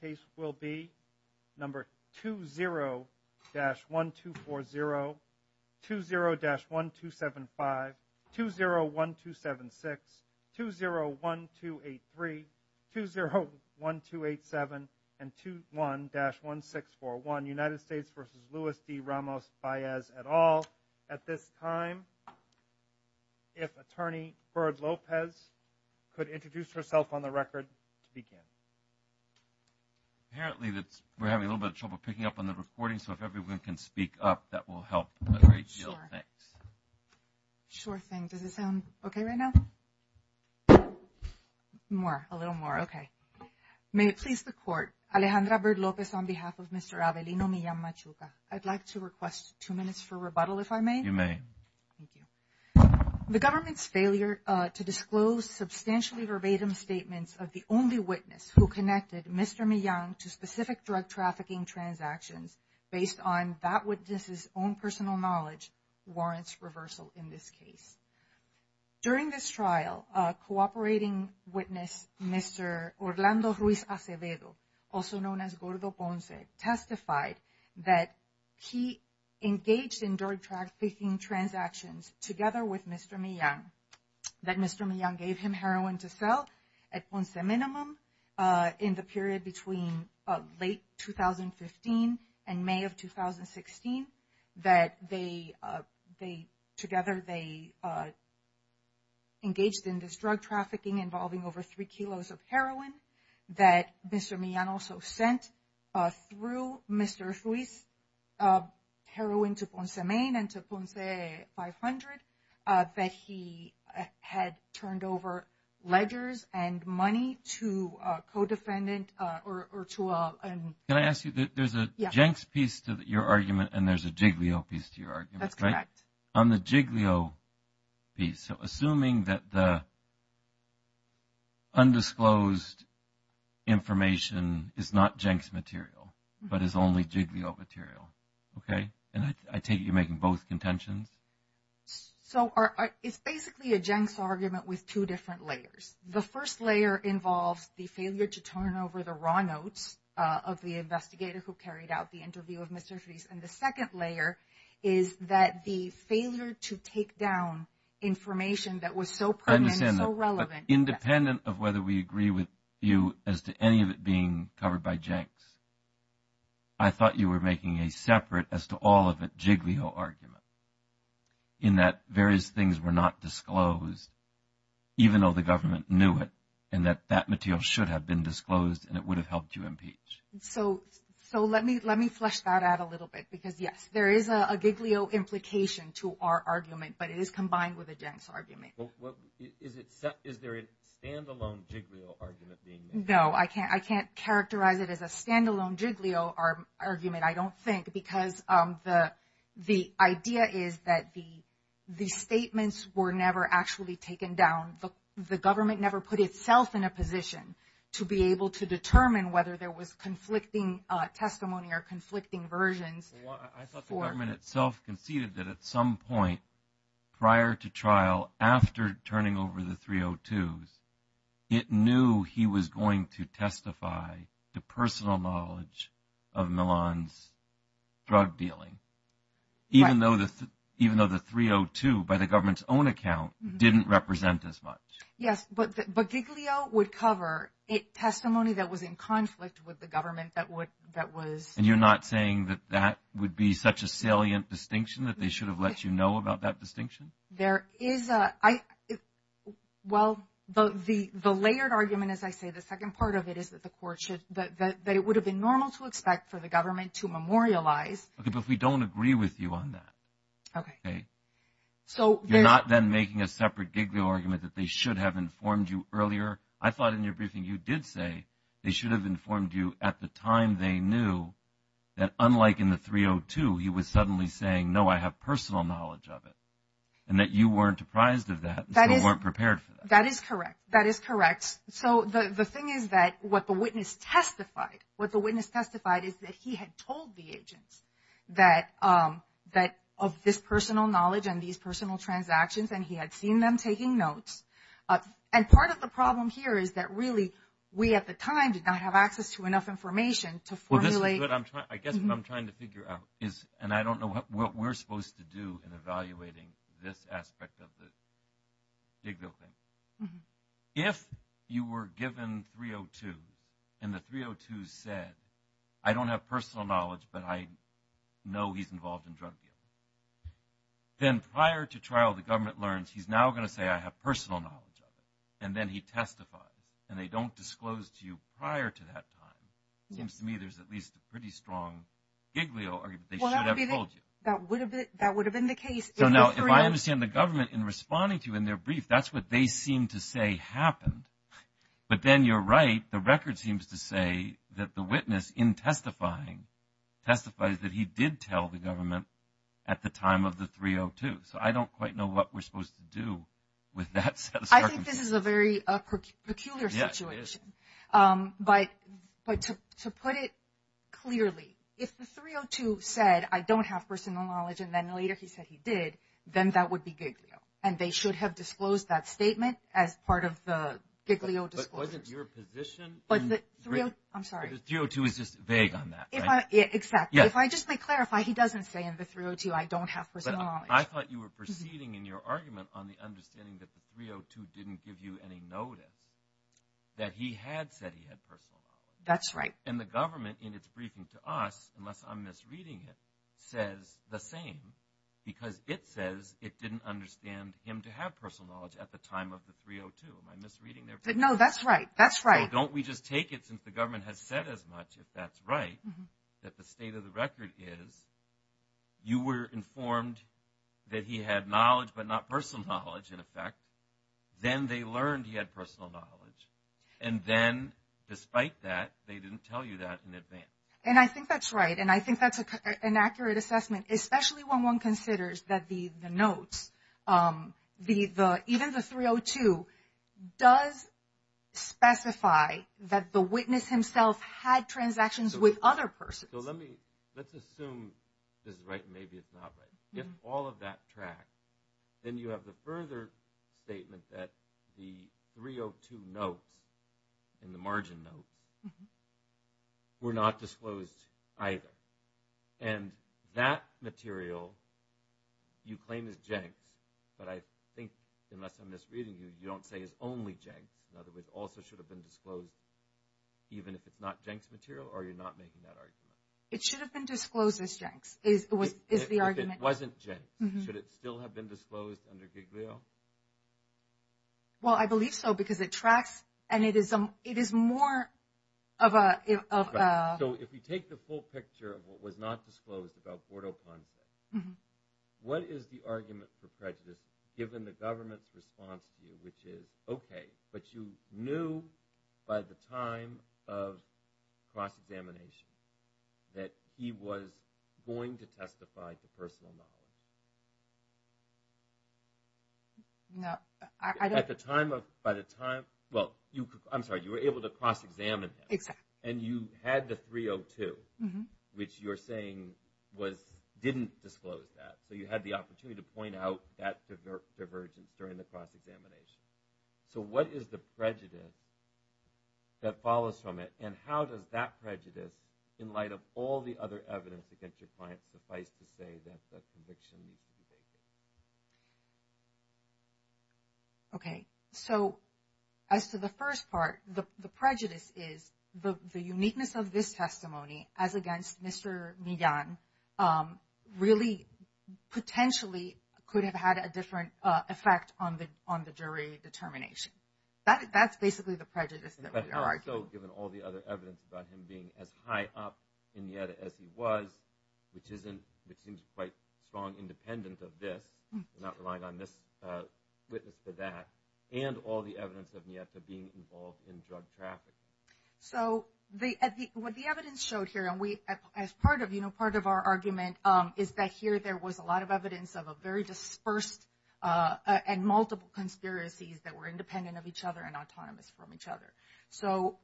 case will be number 20-1240, 20-1275, 20-1276, 20-1283, 20-1287, and 21-1641. United States v. Luis D. Ramos-Baez et al. At this time, if Attorney Byrd-Lopez could introduce herself on the record, speaking. Apparently, we're having a little bit of trouble picking up on the recording, so if everyone can speak up, that will help a great deal. Sure. Sure thing. Does it sound okay right now? More. A little more. Okay. May it please the Court, Alejandra Byrd-Lopez, on behalf of Mr. Abelino Millan-Machuca, I'd like to request two minutes for rebuttal, if I may. You may. Thank you. The government's failure to disclose substantially verbatim statements of the only witness who connected Mr. Millan to specific drug trafficking transactions based on that witness's own personal knowledge warrants reversal in this case. During this trial, a cooperating witness, Mr. Orlando Ruiz Acevedo, also known as Gordo Ponce, testified that he engaged in drug trafficking transactions together with Mr. Millan, that Mr. Millan gave him heroin to sell at Ponce Minimum in the period between late 2015 and May of 2016, that together they engaged in this drug trafficking involving over 3 kilos of heroin, that Mr. Millan also sent through Mr. Ruiz heroin to Ponce Main and to Ponce 500, that he had turned over ledgers and money to a co-defendant or to a... Can I ask you, there's a Jenks piece to your argument and there's a Giglio piece to your argument, right? That's correct. On the Giglio piece, so assuming that the undisclosed information is not Jenks material but is only Giglio material, okay, and I take it you're making both contentions? So it's basically a Jenks argument with two different layers. The first layer involves the failure to turn over the raw notes of the investigator who to take down information that was so pertinent and so relevant. Independent of whether we agree with you as to any of it being covered by Jenks, I thought you were making a separate as to all of it Giglio argument in that various things were not disclosed even though the government knew it and that that material should have been disclosed and it would have helped you impeach. So let me flush that out a little bit because, yes, there is a Giglio implication to our argument but it is combined with a Jenks argument. Is there a stand-alone Giglio argument being made? No, I can't characterize it as a stand-alone Giglio argument, I don't think, because the idea is that the statements were never actually taken down. The government never put itself in a position to be able to determine whether there was a conflicting testimony or conflicting versions. I thought the government itself conceded that at some point prior to trial, after turning over the 302s, it knew he was going to testify to personal knowledge of Milan's drug dealing, even though the 302 by the government's own account didn't represent as much. Yes, but Giglio would cover testimony that was in conflict with the government that was And you're not saying that that would be such a salient distinction that they should have let you know about that distinction? There is a, well, the layered argument, as I say, the second part of it is that the court should, that it would have been normal to expect for the government to memorialize Okay, but we don't agree with you on that. Okay. Okay? You're not then making a separate Giglio argument that they should have informed you earlier? I thought in your briefing you did say they should have informed you at the time they knew that unlike in the 302, he was suddenly saying, no, I have personal knowledge of it, and that you weren't apprised of that and still weren't prepared for that. That is correct. That is correct. So the thing is that what the witness testified, what the witness testified is that he had told the agent that of this personal knowledge and these personal transactions, and he had seen them taking notes. And part of the problem here is that really, we at the time did not have access to enough information to formulate I guess what I'm trying to figure out is, and I don't know what we're supposed to do in evaluating this aspect of this Giglio thing. If you were given 302 and the 302 said, I don't have personal knowledge, but I know he's involved in drug dealing, then prior to trial, the government learns he's now going to say, I have personal knowledge of it. And then he testifies, and they don't disclose to you prior to that time. It seems to me there's at least a pretty strong Giglio argument that they should have told you. That would have been the case. No, no. If I understand the government in responding to you in their brief, that's what they seem to say happened. But then you're right. The record seems to say that the witness in testifying testifies that he did tell the government at the time of the 302. So I don't quite know what we're supposed to do with that set of circumstances. I think this is a very peculiar situation, but to put it clearly, if the 302 said I don't have personal knowledge, and then later he said he did, then that would be Giglio. And they should have disclosed that statement as part of the Giglio disclosure. But wasn't your position in the 302? I'm sorry. Because 302 is just vague on that, right? Exactly. If I just may clarify, he doesn't say in the 302, I don't have personal knowledge. I thought you were proceeding in your argument on the understanding that the 302 didn't give you any notice that he had said he had personal knowledge. That's right. And the government, in its briefing to us, unless I'm misreading it, says the same, because it says it didn't understand him to have personal knowledge at the time of the 302. Am I misreading there? No, that's right. That's right. So don't we just take it since the government has said as much, if that's right, that the state of the record is you were informed that he had knowledge, but not personal knowledge in effect. Then they learned he had personal knowledge. And then, despite that, they didn't tell you that in advance. And I think that's right. And I think that's an accurate assessment, especially when one considers that the note, even the 302, does specify that the witness himself had transactions with other persons. So let's assume this is right, and maybe it's not, but if all of that tracks, then you have a further statement that the 302 notes and the margin notes were not disclosed either. And that material you claim is Jenks, but I think, unless I'm misreading you, you don't say it's only Jenks. In other words, it also should have been disclosed even if it's not Jenks material, or are you not making that argument? It should have been disclosed as Jenks, is the argument. If it wasn't Jenks. Should it still have been disclosed under Giglio? Well, I believe so, because it tracks, and it is more of a... So if you take the full picture of what was not disclosed about Bordo Ponce, what is the argument for prejudice, given the government's response to you, which is, okay, but you knew by the time of cross-examination that he was going to testify to personal knowledge. At the time of... By the time... Well, I'm sorry, you were able to cross-examine him. Exactly. And you had the 302, which you're saying didn't disclose that. So you had the opportunity to point out that divergence during the cross-examination. So what is the prejudice that follows from it? And how does that prejudice, in light of all the other evidence against your client, suffice to say that the conviction... Okay. So as to the first part, the prejudice is the uniqueness of this testimony, as against Mr. Millan, really, potentially, could have had a different effect on the jury determination. That's basically the prejudice. But that's also given all the other evidence about him being as high up in NIETA as he was, which isn't... It seems quite strong independence of this, not relying on this witness for that, and all the evidence of NIETA being involved in drug traffic. So what the evidence showed here, and as part of our argument, is that here there was a lot of evidence of a very dispersed and multiple conspiracies that were independent of each other and autonomous from each other. So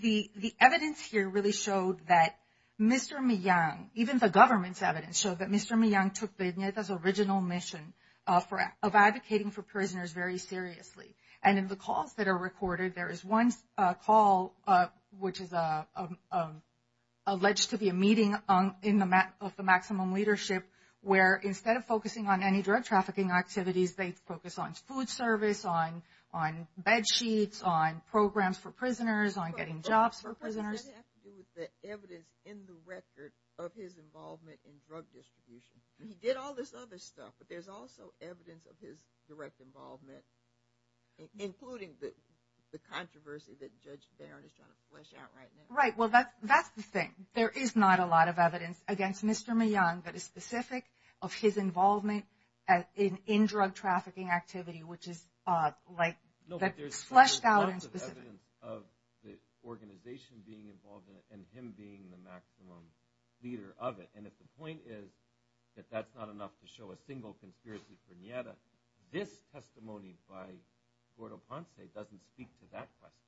the evidence here really showed that Mr. Millan, even the government's evidence, showed that Mr. Millan took the NIETA's original mission of advocating for prisoners very seriously. And in the calls that are recorded, there is one call, which is alleged to be a meeting of the maximum leadership, where instead of focusing on any drug trafficking activities, they focus on food service, on bed sheets, on programs for prisoners, on getting jobs for prisoners. It has to do with the evidence in the record of his involvement in drug distribution. He did all this other stuff, but there's also evidence of his direct involvement. Including the controversy that Judge Barrett is trying to flesh out right now. Right. Well, that's the thing. There is not a lot of evidence against Mr. Millan that is specific of his involvement as in drug trafficking activity, which is fleshed out and specific. There's a lot of evidence of the organization being involved in it and him being the maximum leader of it. And if the point is that that's not enough to show a single conspiracy for NIETA, this testimony by Gordo Ponce doesn't speak to that question.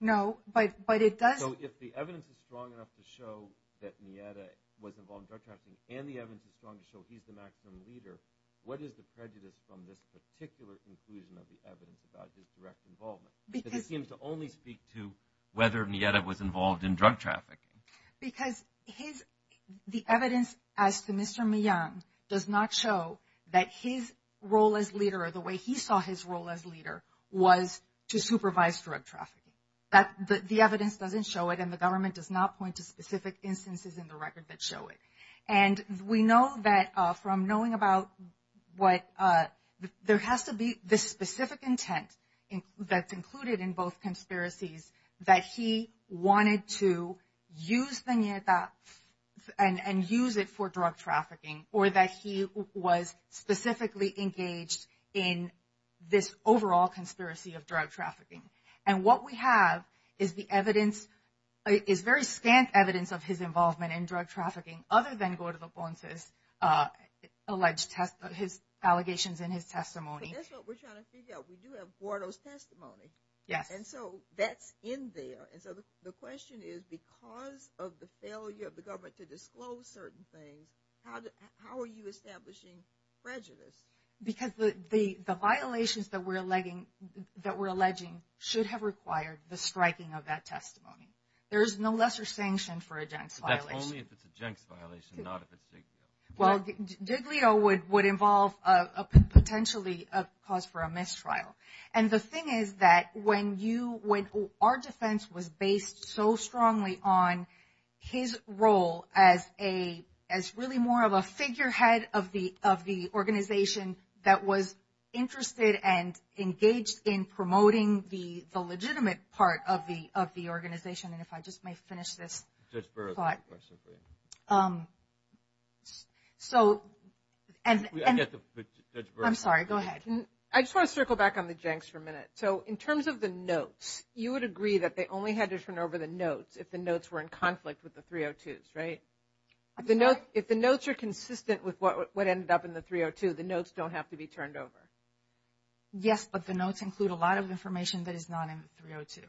No, but it does. So if the evidence is strong enough to show that NIETA was involved in drug trafficking and the evidence is strong enough to show he's the maximum leader, what is the prejudice from this particular conclusion of the evidence about his direct involvement? Because It seems to only speak to whether NIETA was involved in drug traffic. Because the evidence as to Mr. Millan does not show that his role as leader or the way he saw his role as leader was to supervise drug trafficking. The evidence doesn't show it and the government does not point to specific instances in the record that show it. And we know that from knowing about what there has to be this specific intent that's included in both conspiracies that he wanted to use the NIETA and use it for drug trafficking or that he was specifically engaged in this overall conspiracy of drug trafficking. And what we have is the evidence – is very standard evidence of his involvement in drug trafficking other than Gordo Ponce's alleged – his allegations in his testimony. This is what we're trying to figure out. We do have four of those testimonies. And so that's in there. And so the question is because of the failure of the government to disclose certain things, how are you establishing prejudice? Because the violations that we're alleging should have required the striking of that testimony. There is no lesser sanction for a gent's violation. Only if it's a gent's violation, not a particular one. Well, JBLIO would involve potentially a cause for a mistrial. And the thing is that when you – when our defense was based so strongly on his role as a – as really more of a figurehead of the organization that was interested and engaged in promoting the legitimate part of the organization. And if I just may finish this thought. Just for a second. So – I'm sorry. Go ahead. I just want to circle back on the gents for a minute. So in terms of the notes, you would agree that they only had to turn over the notes if the notes were in conflict with the 302s, right? If the notes are consistent with what ended up in the 302, the notes don't have to be turned over. Yes, but the notes include a lot of information that is not in the 302.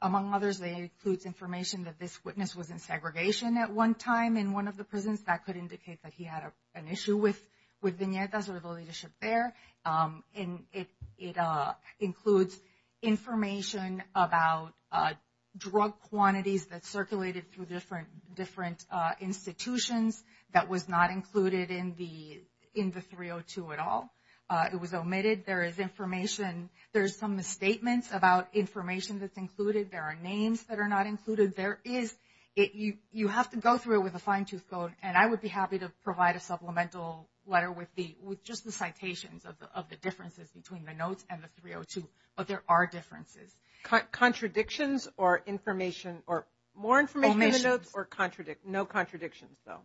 Among others, they include information that this witness was in segregation at one time in one of the prisons. That could indicate that he had an issue with Vinyerta. So there's a little issue there. And it includes information about drug quantities that circulated through different institutions that was not included in the – in the 302 at all. It was omitted. There is information – there's some of the statements about information that's included. There are names that are not included. There is – you have to go through it with a fine-tooth comb, and I would be happy to provide a supplemental letter with the – with just the citations of the differences between the notes and the 302. But there are differences. Contradictions or information – or more information? Only the notes or no contradictions, though?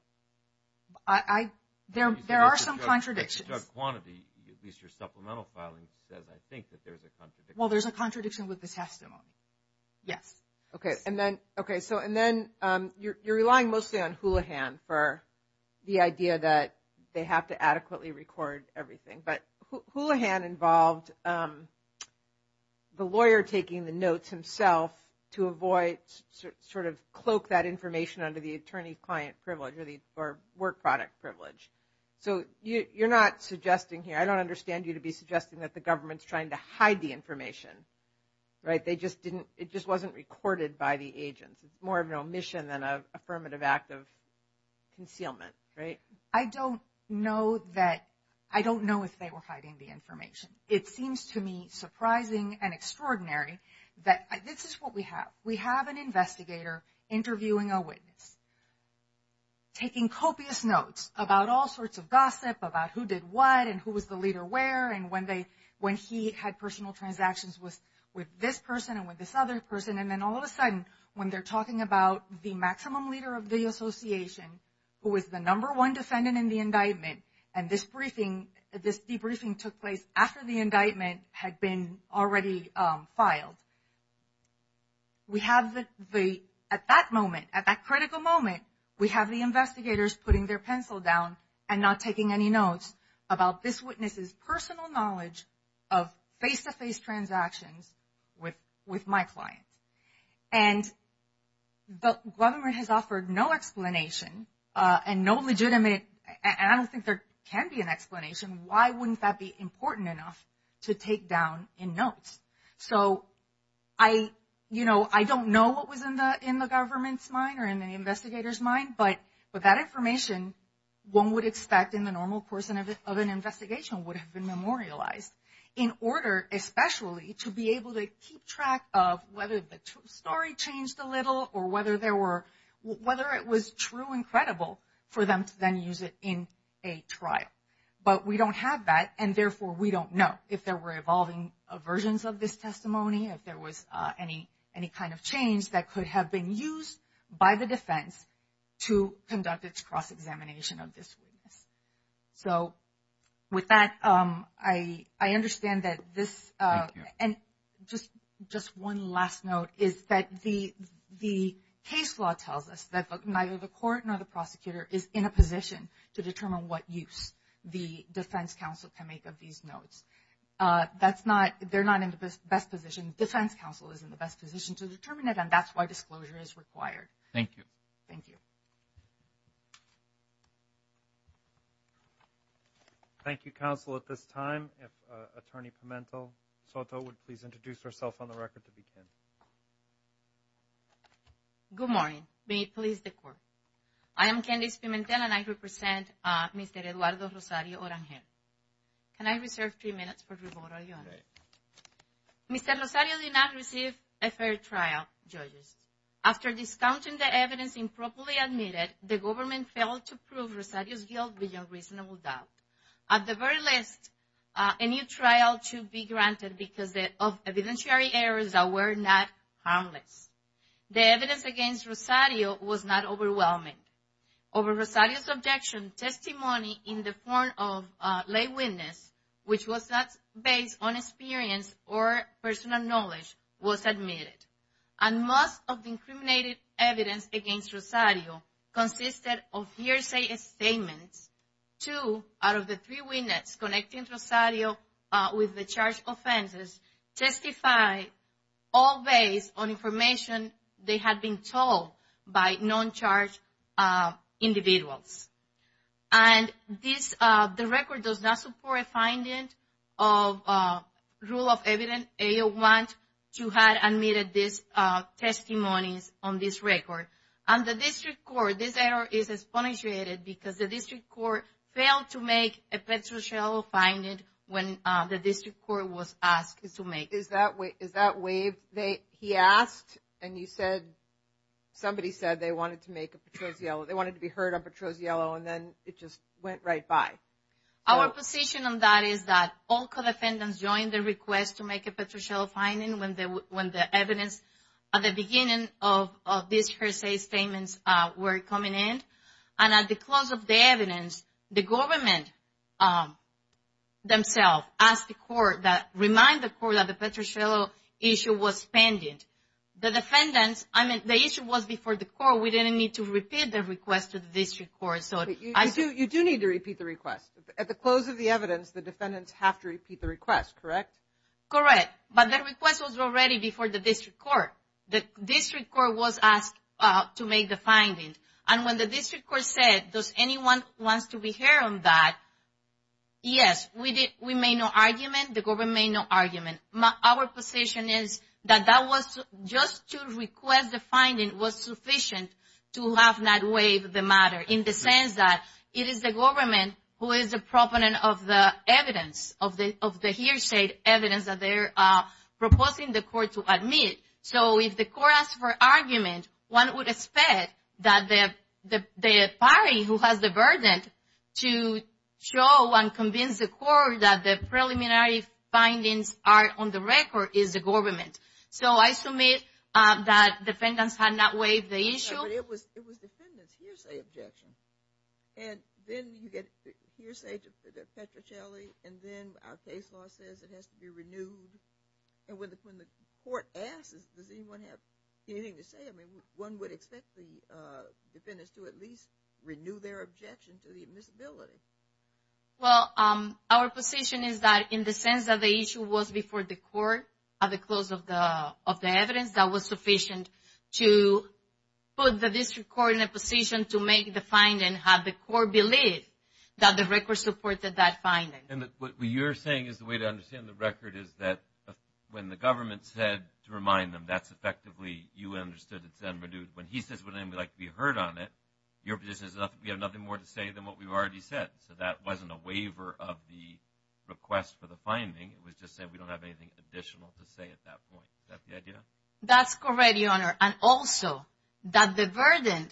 There are some contradictions. The drug quantity, at least your supplemental filing, says I think that there's a contradiction. Well, there's a contradiction with the testimony. Yes. Okay. And then – okay. So – and then you're relying mostly on Houlihan for the idea that they have to adequately record everything. But Houlihan involved the lawyer taking the notes himself to avoid – sort of cloak that information under the attorney-client privilege or the – or work product privilege. So you're not suggesting here – I don't understand you to be suggesting that the government's trying to hide the information, right? They just didn't – it just wasn't recorded by the agents. It's more of an omission than an affirmative act of concealment, right? I don't know that – I don't know if they were hiding the information. It seems to me surprising and extraordinary that – this is what we have. We have an investigator interviewing a witness, taking copious notes about all sorts of gossip, about who did what and who was the leader where, and when they – when he had personal transactions with this person and with this other person, and then all of a sudden when they're talking about the maximum leader of the association, who was the number one defendant in the indictment, and this briefing – this debriefing took place after the indictment had been already filed. We have the – at that moment, at that critical moment, we have the investigators putting their pencil down and not taking any notes about this witness's personal knowledge of face-to-face transactions with my client. And the government has offered no explanation and no legitimate – and I don't think there can be an explanation. Why wouldn't that be important enough to take down in notes? So I – you know, I don't know what was in the government's mind or in the investigator's mind, but that information, one would expect in the normal course of an investigation, would have been memorialized in order especially to be able to keep track of whether the story changed a little or whether there were – whether it was true and credible for them to then use it in a trial. But we don't have that, and therefore, we don't know if there were evolving versions of this testimony, if there was any kind of change that could have been used by the defense to conduct its cross-examination of this witness. So with that, I understand that this – and just one last note is that the case law tells us that neither the court nor the prosecutor is in a position to determine what use the defense counsel can make of these notes. That's not – they're not in the best position. Defense counsel is in the best position to determine it, and that's why disclosure is required. Thank you. Thank you. Thank you, counsel. At this time, if Attorney Pimentel-Soto would please introduce herself on the record to begin. Good morning. May it please the Court. I am Candice Pimentel, and I represent Mr. Eduardo Rosario Oramiel. Can I reserve three minutes for rebuttal, Your Honor? Mr. Rosario did not receive a fair trial, judges. After discounting the evidence improperly admitted, the government failed to prove Rosario's guilt with unreasonable doubt. At the very least, a new trial should be granted because of evidentiary errors that were not harmless. The evidence against Rosario was not overwhelming. Over Rosario's objection, testimony in the form of a lay witness, which was not based on experience or personal knowledge, was admitted. And most of the incriminating evidence against Rosario consisted of hearsay statements. Two out of the three witnesses connected Rosario with the charged offenses testified all based on information they had been told by non-charged individuals. And this, the record does not support a finding of rule of evidence 801 to have admitted this testimony on this record. And the district court, this error is expunged because the district court failed to make a Petro-Ciello finding when the district court was asked to make it. Is that way, is that way they, he asked and you said, somebody said they wanted to make a Petro-Ciello. They wanted to be heard on Petro-Ciello and then it just went right by. Our position on that is that all co-defendants joined the request to make a Petro-Ciello finding when the evidence at the beginning of these hearsay statements were coming in. And at the close of the evidence, the government themselves asked the court that, remind the court that the Petro-Ciello issue was pending. The defendants, I mean, the issue was before the court. We didn't need to repeat the request to the district court. So, I do, you do need to repeat the request. At the close of the evidence, the defendants have to repeat the request, correct? Correct. But that request was already before the district court. The district court was asked to make the findings. And when the district court said, does anyone want to be heard on that? Yes, we did. We made no argument. The government made no argument. Our position is that that was just to request the finding was sufficient to have that waive the matter in the sense that it is the government who is the proponent of the evidence, of the hearsay evidence that they're proposing the court to admit. So, if the court asks for argument, one would expect that the party who has the burden to show and convince the court that the preliminary findings are on the record is the government. So, I submit that defendants had not waived the issue. But it was defendants' hearsay objections. And then you get hearsay to Petrocelli. And then our case law says it has to be renewed. And when the court asks, does anyone have anything to say? I mean, one would expect the defendants to at least renew their objection to the admissibility. Well, our position is that in the sense that the issue was before the court at the close of the evidence, that was sufficient to put the district court in a position to make the finding have the court believe that the record supported that finding. And what you're saying is the way to understand the record is that when the government said to remind them, that's effectively you understood it's been renewed. When he says we'd like to be heard on it, your position is we have nothing more to say than what we've already said. So, that wasn't a waiver of the request for the finding. It was just that we don't have anything additional to say at that point. Is that the idea? That's correct, your honor. And also, that the burden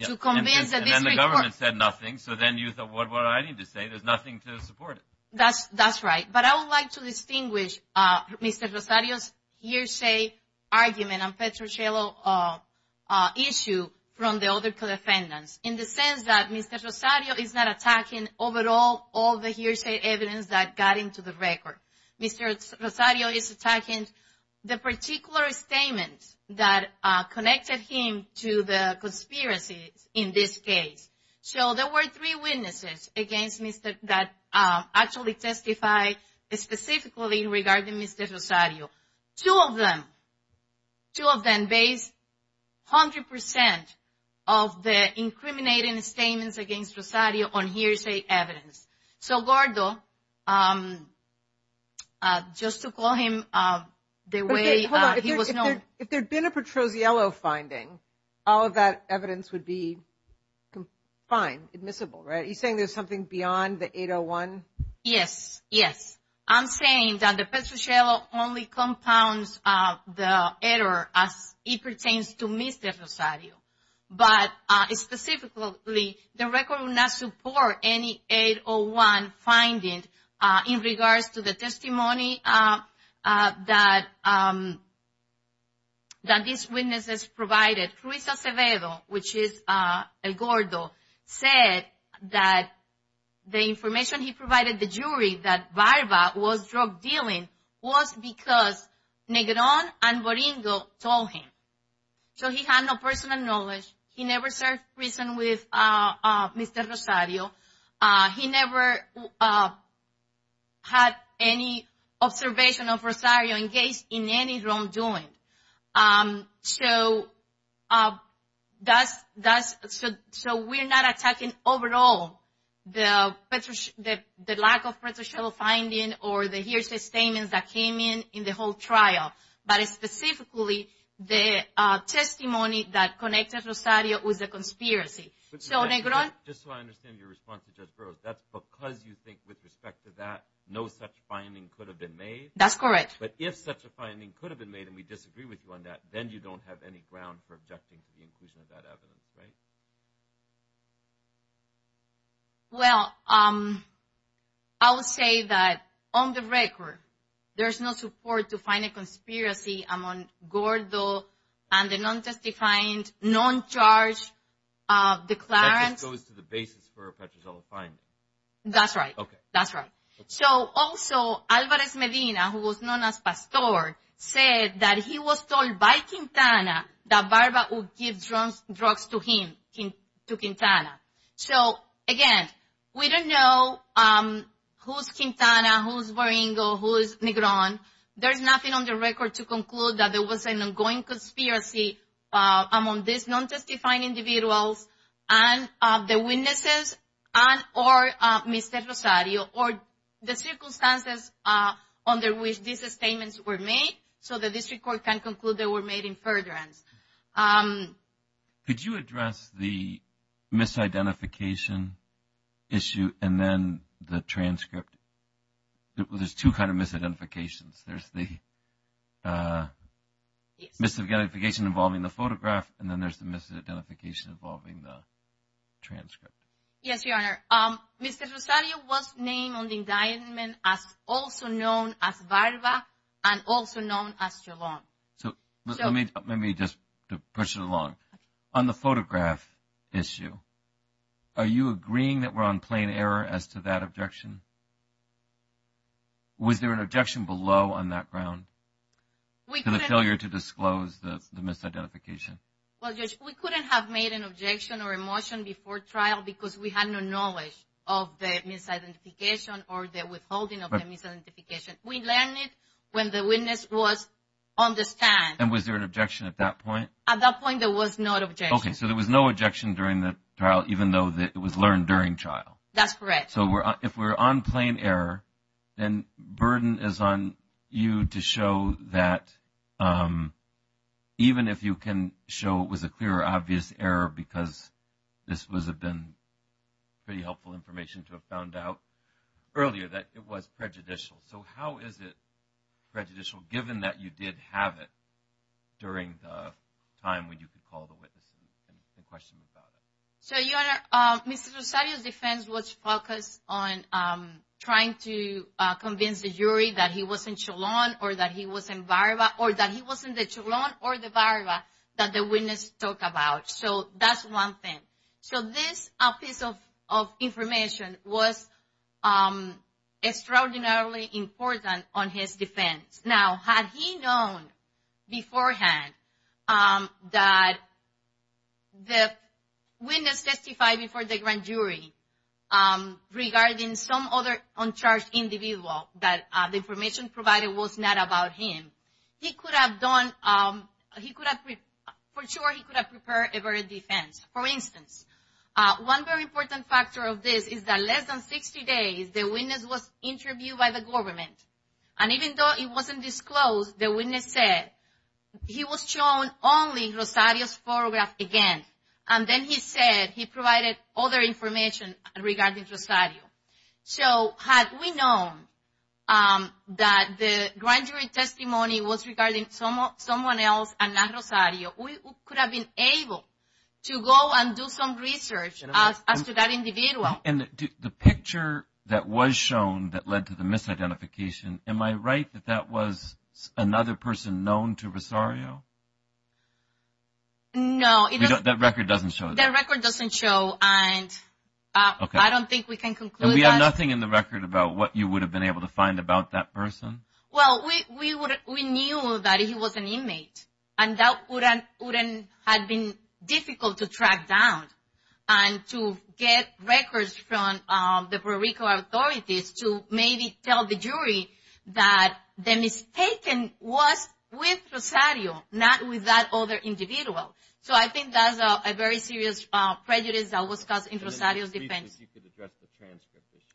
to convince the district court. And then the government said nothing. So, then you thought, what do I need to say? There's nothing to support it. That's right. But I would like to distinguish Mr. Rosario's hearsay argument and Petrocelli issue from the other defendants. In the sense that Mr. Rosario is not attacking overall all the hearsay evidence that got into the record. Mr. Rosario is attacking the particular statement that connected him to the conspiracy in this case. So, there were three witnesses that actually testified specifically regarding Mr. Rosario. Two of them, two of them based 100% of the incriminating statements against Rosario on hearsay evidence. So, Gordo, just to call him the way he was known. If there's been a Petroziello finding, all of that evidence would be fine, admissible, right? You're saying there's something beyond the 801? Yes. Yes. I'm saying that the Petroziello only compounds the error as it pertains to Mr. Rosario. But specifically, the record will not support any 801 findings in regards to the testimony that these witnesses provided. Fruitsa Severo, which is Gordo, said that the information he provided the jury that Barba was drug dealing was because Negron and Boringo told him. So, he had no personal knowledge. He never served prison with Mr. Rosario. He never had any observation of Rosario engaged in any wrongdoing. So, we're not attacking overall the lack of Petroziello finding or the hearsay statement that came in in the whole trial. But specifically, the testimony that connected Rosario with the conspiracy. Just so I understand your response, Fruitsa Severo, that's because you think with respect to that, no such finding could have been made? That's correct. But if such a finding could have been made and we disagree with you on that, then you don't have any ground for objecting to the inclusion of that evidence, right? Well, I would say that on the record, there is no support to find a conspiracy among Gordo and the non-suspected client, non-charged declarant. That goes to the basis for a Petroziello finding. That's right. That's right. So, also, Alvarez Medina, who was known as Pastor, said that he was told by Quintana that Barba would give drugs to him, to Quintana. So, again, we don't know who's Quintana, who's Baringo, who's Negron. There's nothing on the record to conclude that there was an ongoing conspiracy among these non-testifying individuals and the witnesses and or Mr. Rosario or the circumstances under which these statements were made. So, the district court can conclude they were made in Ferdinand. Could you address the misidentification issue and then the transcript? There's two kinds of misidentifications. There's the misidentification involving the photograph and then there's the misidentification involving the transcript. Yes, Your Honor. Mr. Rosario was named on the indictment as also known as Barba and also known as Chavon. So, let me just push it along. On the photograph issue, are you agreeing that we're on plain error as to that objection? Was there an objection below on that ground to the failure to disclose the misidentification? Well, Judge, we couldn't have made an objection or a motion before trial because we had no knowledge of the misidentification or the withholding of the misidentification. We learned it when the witness was on the stand. And was there an objection at that point? At that point, there was no objection. Okay. So, there was no objection during the trial even though it was learned during trial? That's correct. If we're on plain error, then burden is on you to show that even if you can show it was a clear or obvious error because this would have been pretty helpful information to have found out earlier that it was prejudicial. So, how is it prejudicial given that you did have it during the time when you could call the witness and question about it? So, Your Honor, Mr. Sosario's defense was focused on trying to convince the jury that he wasn't Cholon or that he wasn't Barba or that he wasn't the Cholon or the Barba that the witness talked about. So, that's one thing. So, this piece of information was extraordinarily important on his defense. Now, had he known beforehand that the witness testified before the grand jury regarding some other uncharged individual that the information provided was not about him, he could have done, he could have, for sure he could have prepared a better defense. For instance, one very important factor of this is that less than 60 days the witness was interviewed by the government. And even though it wasn't disclosed, the witness said he was shown only Sosario's photograph again. And then he said he provided other information regarding Sosario. So, had we known that the grand jury testimony was regarding someone else and not Sosario, we could have been able to go and do some research as to that individual. And the picture that was shown that led to the misidentification, am I right that that was another person known to Sosario? No. That record doesn't show it. That record doesn't show. And I don't think we can conclude that. And we have nothing in the record about what you would have been able to find about that person? Well, we knew that he was an inmate. And that would have been difficult to track down and to get records from the Puerto Rico authorities to maybe tell the jury that the mistaken was with Sosario, not with that other individual. So, I think that's a very serious prejudice that was caused in Sosario's defense. You could address the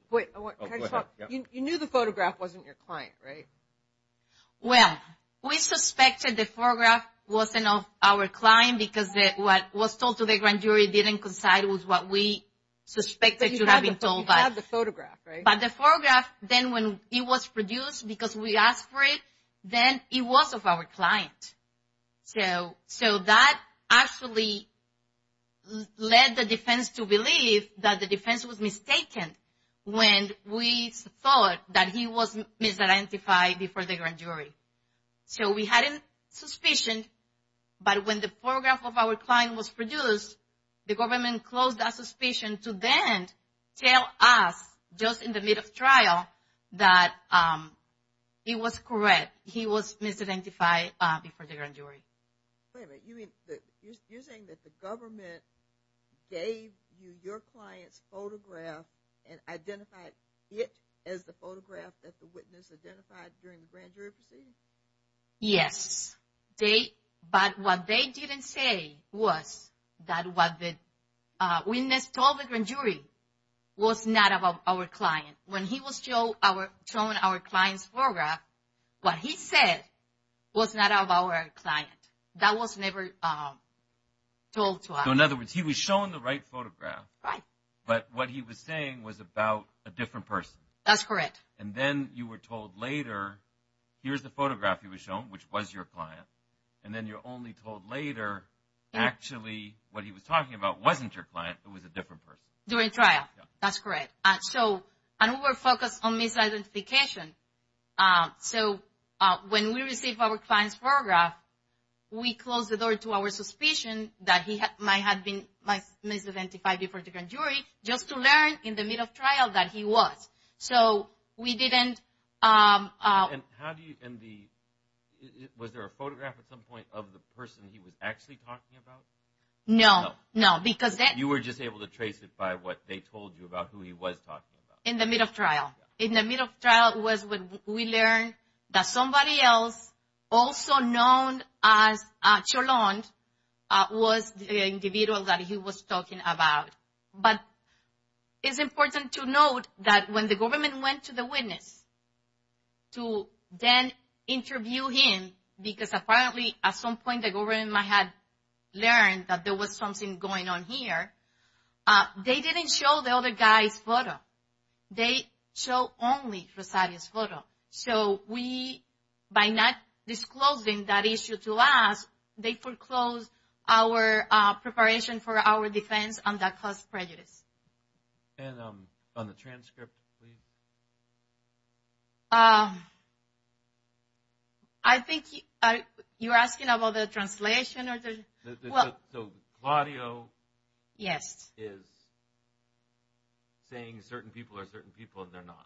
transcript. You knew the photograph wasn't your client, right? Well, we suspected the photograph wasn't of our client because what was told to the grand jury didn't coincide with what we suspected to have been told by us. But you have the photograph, right? But the photograph, then when it was produced because we asked for it, then it was of our client. So, that actually led the defense to believe that the defense was mistaken when we thought that he was misidentified before the grand jury. So, we had a suspicion, but when the photograph of our client was produced, the government closed that suspicion to then tell us, just in the middle of trial, that it was correct. He was misidentified before the grand jury. You're saying that the government gave you your client's photograph and identified it as the photograph that the witness identified during the grand jury proceedings? Yes, but what they didn't say was that what the witness told the grand jury was not about our client. When he was showing our client's photograph, what he said was not about our client. That was never told to us. So, in other words, he was showing the right photograph, but what he was saying was about a different person. That's correct. And then you were told later, here's the photograph he was showing, which was your client. And then you're only told later, actually, what he was talking about wasn't your client, it was a different person. During trial. That's correct. So, and we were focused on misidentification. So, when we received our client's photograph, we closed the door to our suspicion that he might have been misidentified before the grand jury, just to learn in the middle of trial that he was. So, we didn't... And how do you, in the, was there a photograph at some point of the person he was actually talking about? No, no, because that... You were just able to trace it by what they told you about who he was talking about? In the middle of trial. In the middle of trial was when we learned that somebody else, also known as Cholon, was the individual that he was talking about. But it's important to note that when the government went to the witness to then interview him, because apparently at some point the government might have learned that there was something going on here, they didn't show the other guy's photo. They show only Rosario's photo. So, we, by not disclosing that issue to us, they foreclosed our preparation for our defense on that false prejudice. And on the transcript, please? I think you're asking about the translation or the... So, Rosario is saying certain people are certain people and they're not?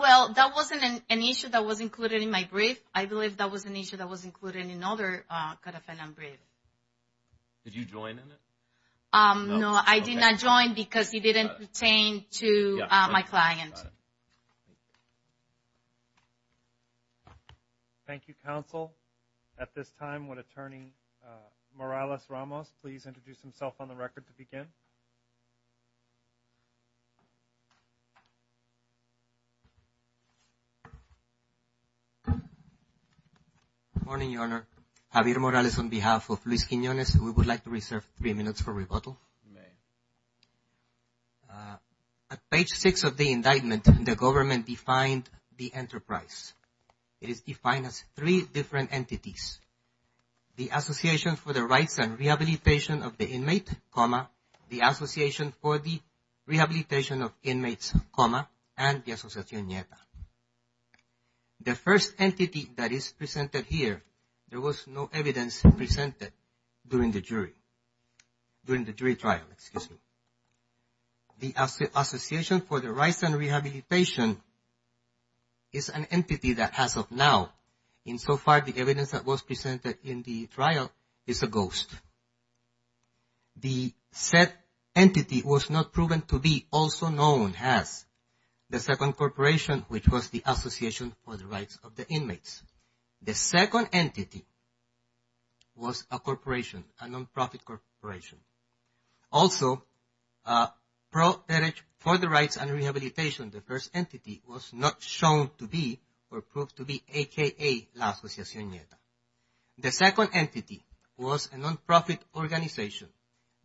Well, that wasn't an issue that was included in my brief. I believe that was an issue that was included in another Codependent Brief. Did you join in it? No, I did not join because he didn't sustain to my client. Thank you, counsel. At this time, would Attorney Morales-Ramos please introduce himself on the record to begin? Good morning, Your Honor. Javier Morales on behalf of Luis Quinonez. We would like to reserve three minutes for rebuttal. At page six of the indictment, the government defined the enterprise. It is defined as three different entities. The Association for the Rights and Rehabilitation of the Inmate, comma, the Association for the Rehabilitation of Inmates, comma, and the Associación NIETA. The first entity that is presented here, there was no evidence presented during the jury, during the jury trial, excuse me. The Association for the Rights and Rehabilitation is an entity that, as of now, insofar as the evidence that was presented in the trial, is a ghost. The said entity was not proven to be also known as the second corporation, which was the Association for the Rights of the Inmates. The second entity was a corporation, a non-profit corporation. Also, for the Rights and Rehabilitation, the first entity was not shown to be or proved to be a.k.a. La Asociación NIETA. The second entity was a non-profit organization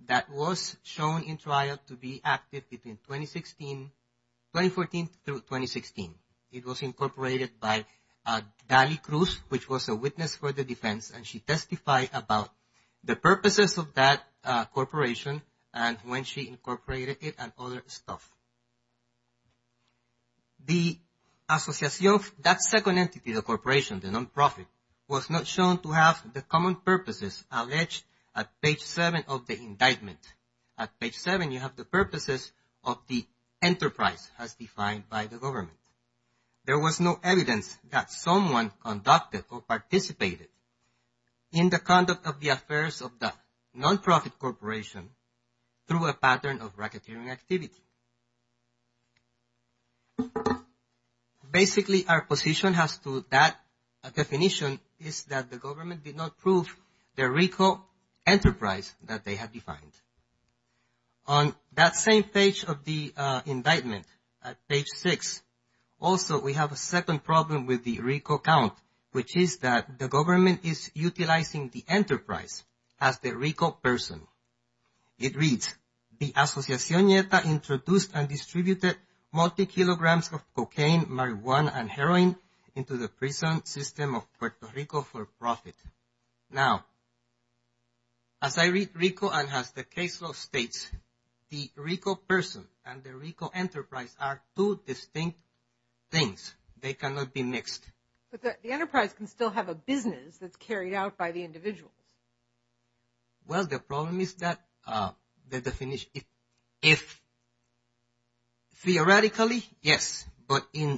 that was shown in trial to be active between 2014 through 2016. It was incorporated by Dali Cruz, which was a witness for the defense, and she testified about the purposes of that corporation and when she incorporated it and other stuff. The Asociación, that second entity, the corporation, the non-profit, was not shown to have the common purposes alleged at page seven of the indictment. At page seven, you have the purposes of the enterprise as defined by the government. There was no evidence that someone conducted or participated in the conduct of the affairs of the non-profit corporation through a pattern of racketeering activity. Basically, our position as to that definition is that the government did not prove the RICO enterprise that they have defined. On that same page of the indictment, at page six, also, we have a second problem with the RICO count, which is that the government is utilizing the enterprise as the RICO person. It reads, the Asociación NIETA introduced and distributed multi-kilograms of cocaine, marijuana, and heroin into the prison system of Puerto Rico for profit. Now, as I read RICO and as the case law states, the RICO person and the RICO enterprise are two distinct things. They cannot be mixed. But the enterprise can still have a business that's carried out by the individual. Well, the problem is that the definition is non-existent. Theoretically, yes, but in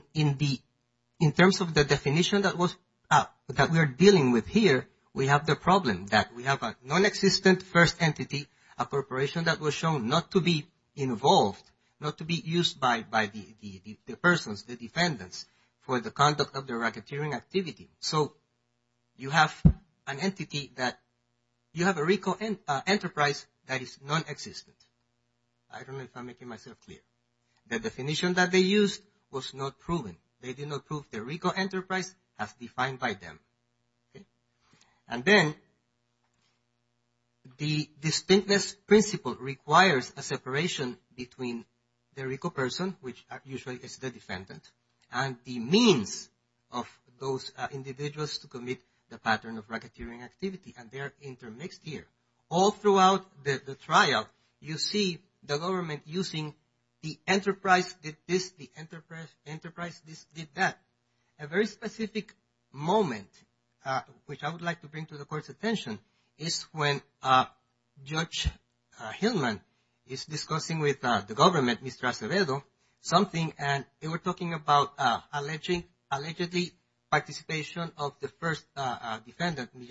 terms of the definition that we're dealing with here, we have the problem that we have a non-existent first entity, a corporation that was shown not to be involved, not to be used by the persons, the defendants, for the conduct of the racketeering activity. So, you have an entity that you have a RICO enterprise that is non-existent. I don't know if I'm making myself clear. The definition that they used was not proven. They did not prove the RICO enterprise as defined by them. And then, the distinctness principle requires a separation between the RICO person, which usually is the defendant, and the means of those individuals to commit the pattern of racketeering activity, and they're intermixed here. All throughout the trial, you see the government using the enterprise with this, the enterprise with that. A very specific moment, which I would like to bring to the court's attention, is when Judge Hillman is discussing with the government, Mr. Acevedo, something, and they were talking about allegedly participation of the first defendant, in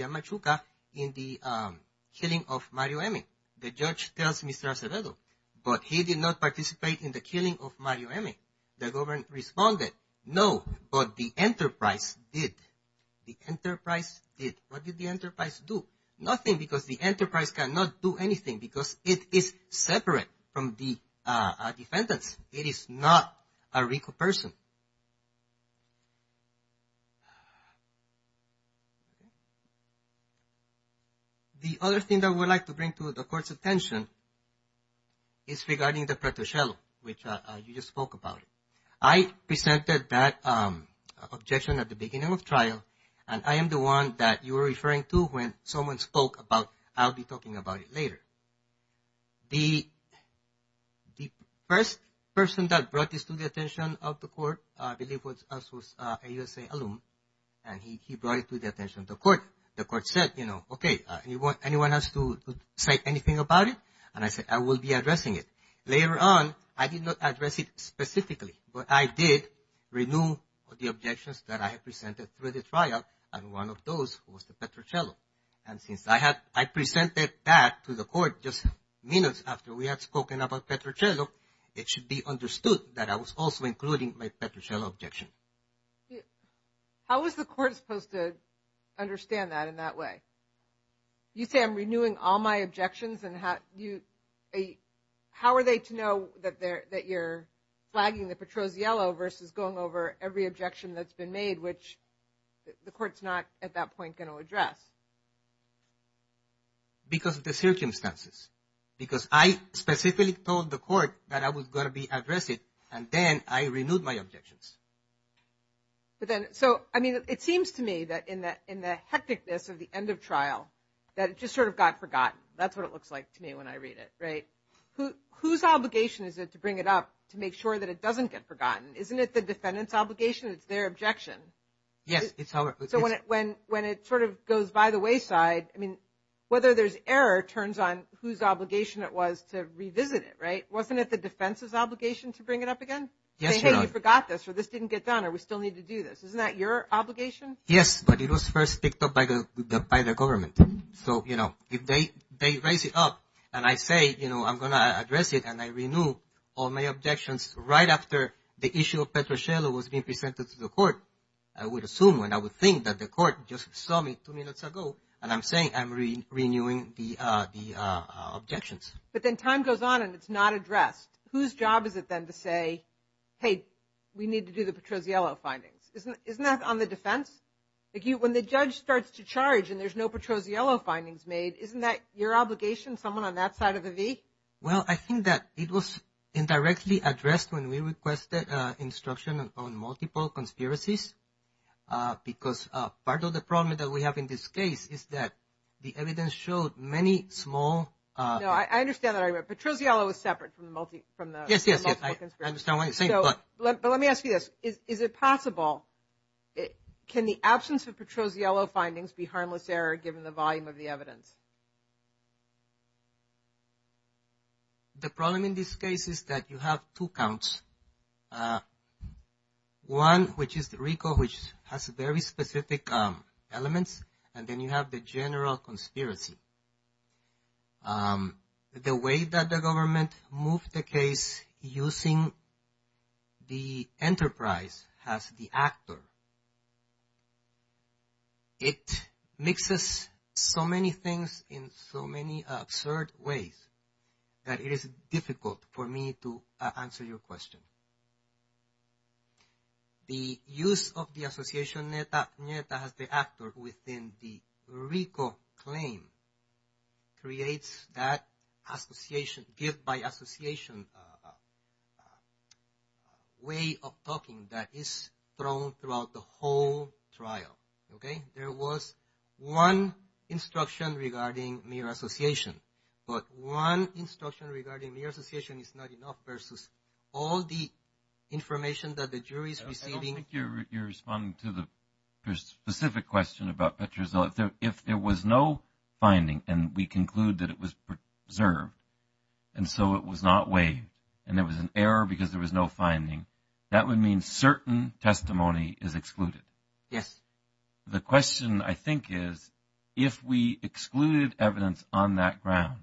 the killing of Mario Emei. The judge tells Mr. Acevedo, but he did not participate in the killing of Mario Emei. The government responded, no, but the enterprise did. The enterprise did. What did the enterprise do? Nothing, because the enterprise cannot do anything, because it is separate from the defendant. It is not a RICO person. The other thing that I would like to bring to the court's attention is regarding the pretrocello, which you just spoke about. I presented that objection at the beginning of the trial, and I am the one that you were referring to when someone spoke about, I'll be talking about it later. The first person that brought this to the attention of the court, I believe, was a USA alum, and he brought it to the attention of the court. The court said, you know, okay, anyone has to say anything about it? I said, I will be addressing it. Later on, I did not address it specifically, but I did renew the objections that I had presented through the trial, and one of those was the pretrocello. Since I presented that to the court just minutes after we had spoken about pretrocello, it should be understood that I was also including my pretrocello objection. How is the court supposed to understand that in that way? You say I'm renewing all my objections, and how are they to know that you're flagging the pretrocello versus going over every objection that's been made, which the court's not at that point going to address? Because of the circumstances. Because I specifically told the court that I was going to address it, and then I renewed my objections. So, I mean, it seems to me that in the hecticness of the end of trial, that it just sort of got forgotten. That's what it looks like to me when I read it, right? Whose obligation is it to bring it up to make sure that it doesn't get forgotten? Isn't it the defendant's obligation? It's their objection. Yes, it's our objection. When it sort of goes by the wayside, I mean, whether there's error turns on whose obligation it was to revisit it, right? Wasn't it the defense's obligation to bring it up again? Yes, Your Honor. Say, hey, we forgot this, or this didn't get done, or we still need to do this. Isn't that your obligation? Yes, but it was first picked up by the government. So, you know, if they raise it up, and I say, you know, I'm going to address it, and I renew all my objections right after the issue of pretrocello was being presented to the court, I would assume, and I would think that the court just saw me two minutes ago, and I'm saying I'm renewing the objections. But then time goes on, and it's not addressed. Whose job is it then to say, hey, we need to do the pretrocello findings? Isn't that on the defense? When the judge starts to charge, and there's no pretrocello findings made, isn't that your obligation, someone on that side of the V? Well, I think that it was indirectly addressed when we requested instruction on multiple conspiracies, because part of the problem that we have in this case is that the evidence shows many small... No, I understand that. Pretrocello is separate from the multi... Yes, yes, yes. I understand what you're saying, but... Let me ask you this. Is it possible... Can the absence of pretrocello findings be harmless error, given the volume of the evidence? The problem in this case is that you have two counts. One, which is the RICO, which has a very specific element, and then you have the general conspiracy. The way that the government moved the case using the enterprise as the actor, it mixes so many things in so many absurd ways that it is difficult for me to answer your question. The use of the association NETA as the actor within the RICO claim creates that association, give by association way of talking that is thrown throughout the whole trial. There was one instruction regarding mere association, but one instruction regarding mere association is not enough versus all the information that the jury is receiving... I don't think you're responding to the specific question about pretrocello. If there was no finding and we conclude that it was preserved, and so it was not weighed, and there was an error because there was no finding, that would mean certain testimony is excluded. Yes. The question I think is, if we excluded evidence on that ground,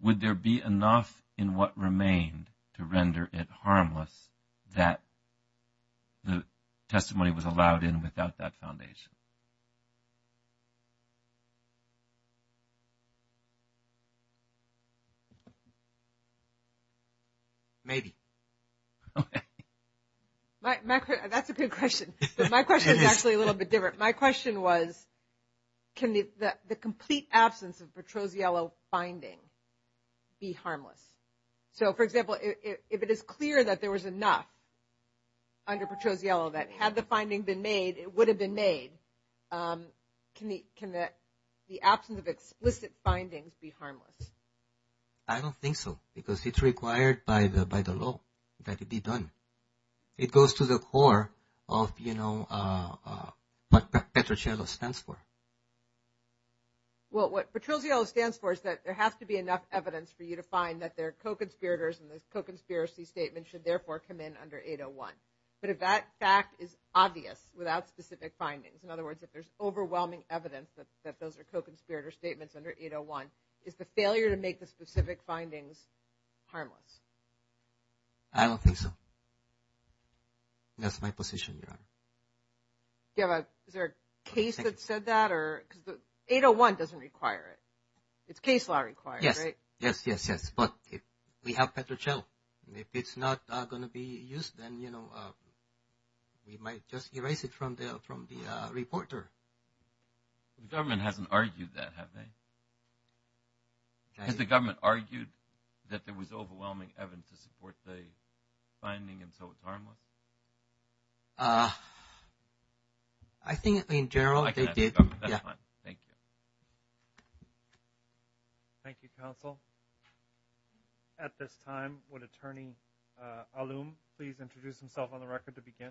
would there be enough in what remained to render it harmless that the testimony was allowed in without that foundation? Maybe. That's a good question, but my question is actually a little bit different. My question was, can the complete absence of pretrocello finding be harmless? For example, if it is clear that there was enough under pretrocello, that had the finding been made, it would have been made, can the absence of explicit findings be harmless? I don't think so, because it's required by the law that it be done. It goes to the core of what pretrocello stands for. Well, what pretrocello stands for is that there has to be enough evidence for you to find that they're co-conspirators, and this co-conspiracy statement should therefore come in under 801. But if that fact is obvious without specific findings, in other words, if there's overwhelming evidence that those are co-conspirator statements under 801, it's a failure to make the specific findings harmless. I don't think so. That's my position. Do you have a case that said that? 801 doesn't require it. It's case law required, right? Yes, yes, yes. But we have pretrocello. If it's not going to be used, then we might just erase it from the reporter. The government hasn't argued that, have they? Has the government argued that there was overwhelming evidence to support the finding and so it's harmless? I think in general they did. Thank you. Thank you, counsel. At this time, would Attorney Aloum please introduce himself on the record to begin?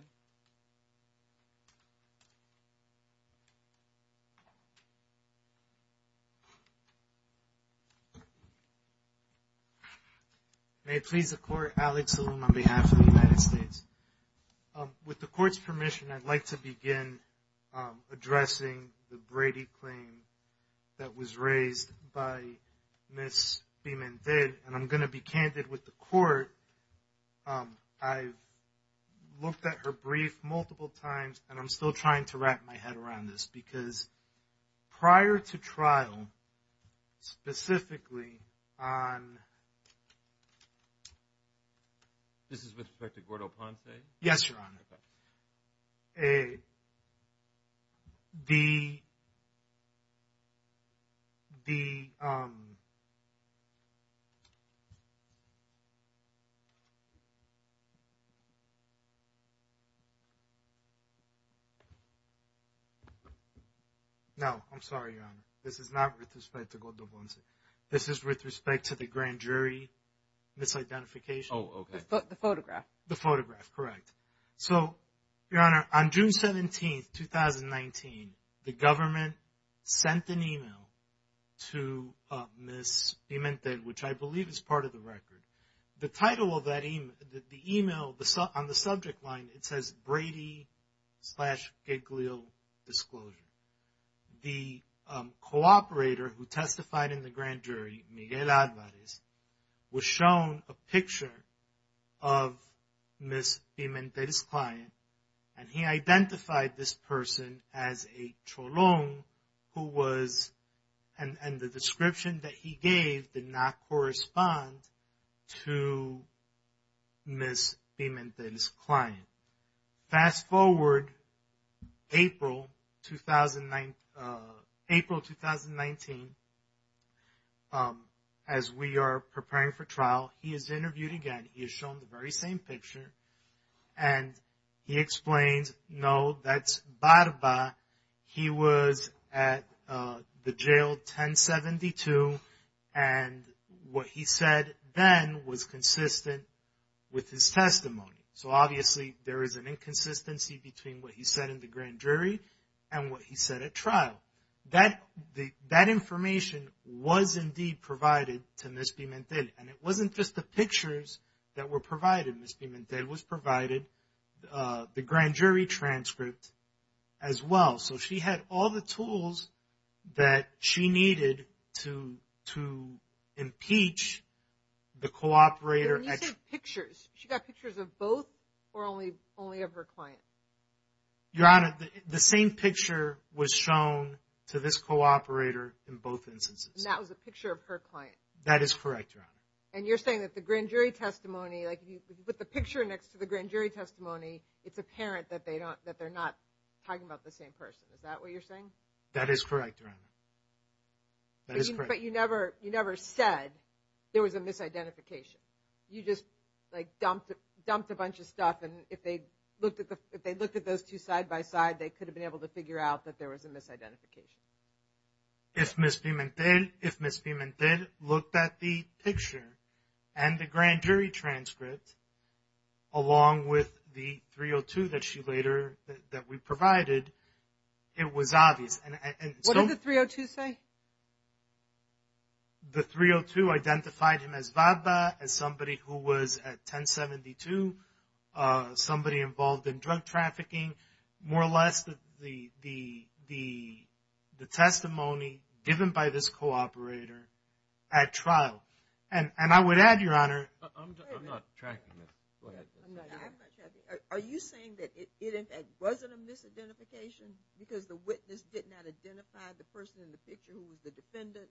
May I plead the court, Alex Aloum on behalf of the United States. With the court's permission, I'd like to begin addressing the Brady claim that was raised by Ms. Beaman-Finn. I'm going to be candid with the court. I've looked at her brief multiple times and I'm still trying to wrap my head around this because prior to trial, specifically on the Brady claim, there was no evidence to support the finding. This is with respect to Gordo Ponce? Yes, Your Honor. No, I'm sorry, Your Honor. This is not with respect to Gordo Ponce. This is with respect to the grand jury misidentification. Oh, okay. The photograph. The photograph, correct. So, Your Honor, on June 17, 2019, the government sent an email to Ms. Beaman-Finn, which I believe is part of the record. The title of the email on the subject line, it says, Brady-Giglio Disclosure. The cooperator who testified in the grand jury, Miguel Alvarez, was shown a picture of Ms. Beaman-Finn's client and he identified this person as a Cholón who was – and the description that he gave did not correspond to Ms. Beaman-Finn's testimony. Fast forward, April 2019, as we are preparing for trial, he is interviewed again. He is shown the very same picture and he explained, no, that's Barba. He was at the jail 1072 and what he said then was consistent with his testimony. So, obviously, there is an inconsistency between what he said in the grand jury and what he said at trial. That information was indeed provided to Ms. Beaman-Finn and it wasn't just the pictures that were provided. Ms. Beaman-Finn was provided the grand jury transcript as well. So, she had all the tools that she needed to impeach the cooperator. You said pictures. She got pictures of both or only of her client? Your Honor, the same picture was shown to this cooperator in both instances. And that was a picture of her client? That is correct, Your Honor. And you're saying that the grand jury testimony, like if you put the picture next to the grand jury testimony, it's apparent that they're not talking about the same person. Is that what you're saying? That is correct, Your Honor. That is correct. But you never said there was a misidentification. You just dumped a bunch of stuff and if they looked at those two side by side, they could have been able to figure out that there was a misidentification. If Ms. Beaman-Finn looked at the picture and the grand jury transcript along with the 302 that she later, that we provided, it was obvious. What did the 302 say? The 302 identified him as Vada, as somebody who was at 1072, somebody involved in drug the testimony given by this cooperator at trial. And I would add, Your Honor... I'm not tracking this. Go ahead. Are you saying that it wasn't a misidentification because the witness did not identify the person in the picture who was the defendant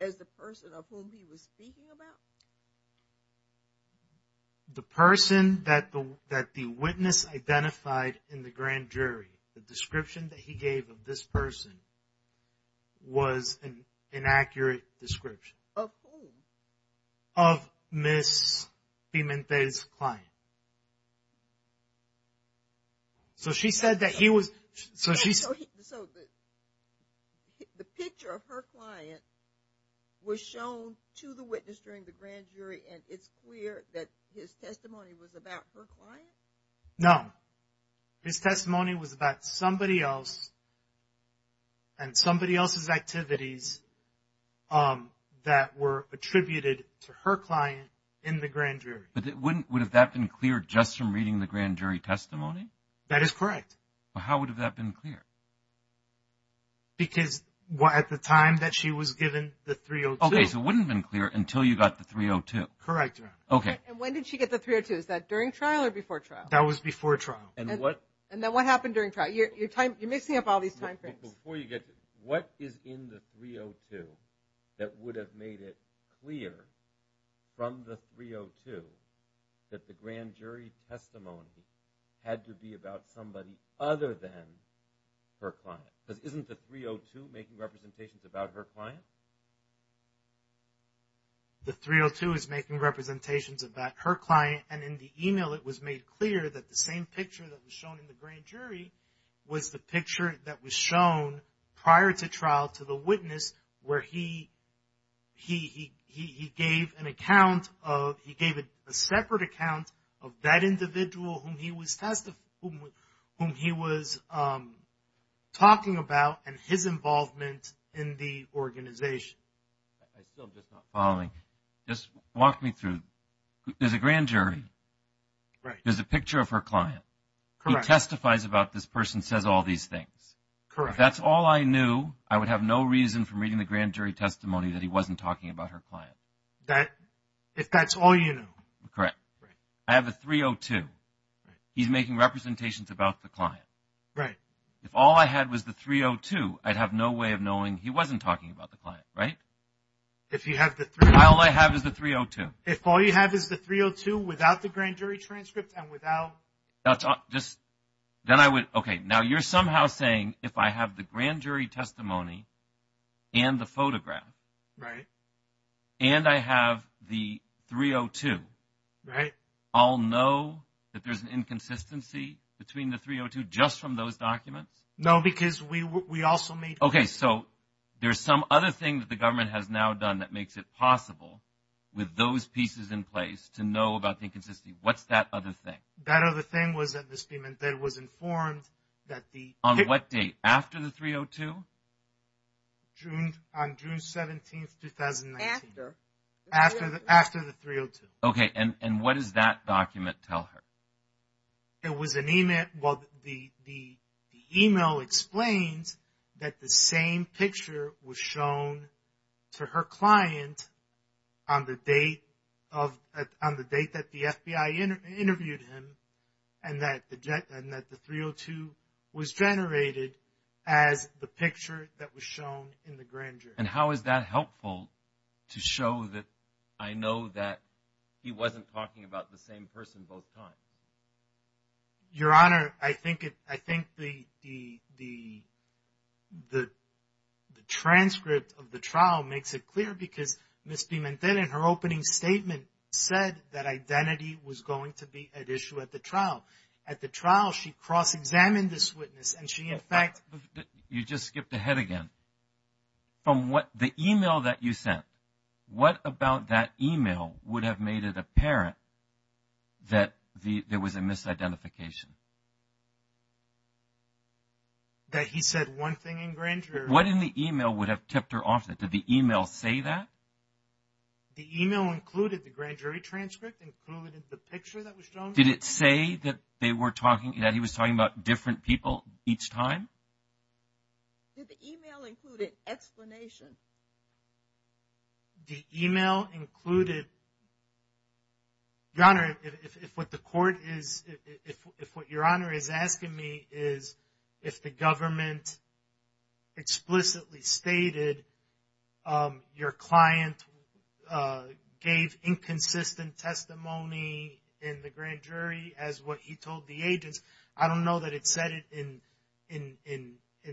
as the person of whom he was speaking about? The person that the witness identified in the grand jury, the description that he gave this person was an inaccurate description. Of whom? Of Ms. Beaman-Finn's client. So she said that he was... The picture of her client was shown to the witness during the grand jury and it's clear that his testimony was about her client? No. His testimony was about somebody else and somebody else's activities that were attributed to her client in the grand jury. Would have that been clear just from reading the grand jury testimony? That is correct. How would have that been clear? Because at the time that she was given the 302... Okay, so it wouldn't have been clear until you got the 302. Correct, Your Honor. Okay. When did she get the 302? Is that during trial or before trial? That was before trial. And what... And then what happened during trial? Your time... You're mixing up all these timeframes. Before you get to... What is in the 302 that would have made it clear from the 302 that the grand jury testimony had to be about somebody other than her client? But isn't the 302 making representations about her client? The 302 is making representations about her client. And in the email, it was made clear that the same picture that was shown in the grand jury was the picture that was shown prior to trial to the witness where he gave an account of... He gave a separate account of that individual whom he was talking about and his involvement in the organization. I still just not following. Just walk me through. There's a grand jury. Right. There's a picture of her client. Correct. Who testifies about this person, says all these things. Correct. If that's all I knew, I would have no reason from reading the grand jury testimony that he wasn't talking about her client. That... If that's all you knew. Correct. I have the 302. He's making representations about the client. Right. If all I had was the 302, I'd have no way of knowing he wasn't talking about the client, right? If you have the 302... All I have is the 302. If all you have is the 302 without the grand jury transcript and without... Just... Then I would... Okay. Now you're somehow saying if I have the grand jury testimony and the photograph... Right. And I have the 302... Right. I'll know that there's an inconsistency between the 302 just from those documents? No, because we also made... Okay. So there's some other things the government has now done that makes it possible with those pieces in place to know about the inconsistency. What's that other thing? That other thing was that the statement that was informed that the... On what date? After the 302? On June 17th, 2019. After. After the 302. Okay. And what does that document tell her? It was an email... Well, the email explained that the same picture was shown to her client on the date of... On the date that the FBI interviewed him and that the 302 was generated as the picture that was shown in the grand jury. And how is that helpful to show that I know that he wasn't talking about the same person both times? Your Honor, I think the transcript of the trial makes it clear because Ms. Demente in her opening statement said that identity was going to be at issue at the trial. At the trial, she cross-examined this witness and she in fact... You just skipped ahead again. From what... The email that you sent, what about that email would have made it apparent that there was a misidentification? That he said one thing in grand jury... What in the email would have tipped her off? Did the email say that? The email included the grand jury transcript, included the picture that was shown... Did it say that they were talking... That he was talking about different people each time? Did the email include an explanation? The email included... Your Honor, if what the court is... If what Your Honor is asking me is if the government explicitly stated your client gave inconsistent testimony in the grand jury as what he told the agent, I don't know that it said it in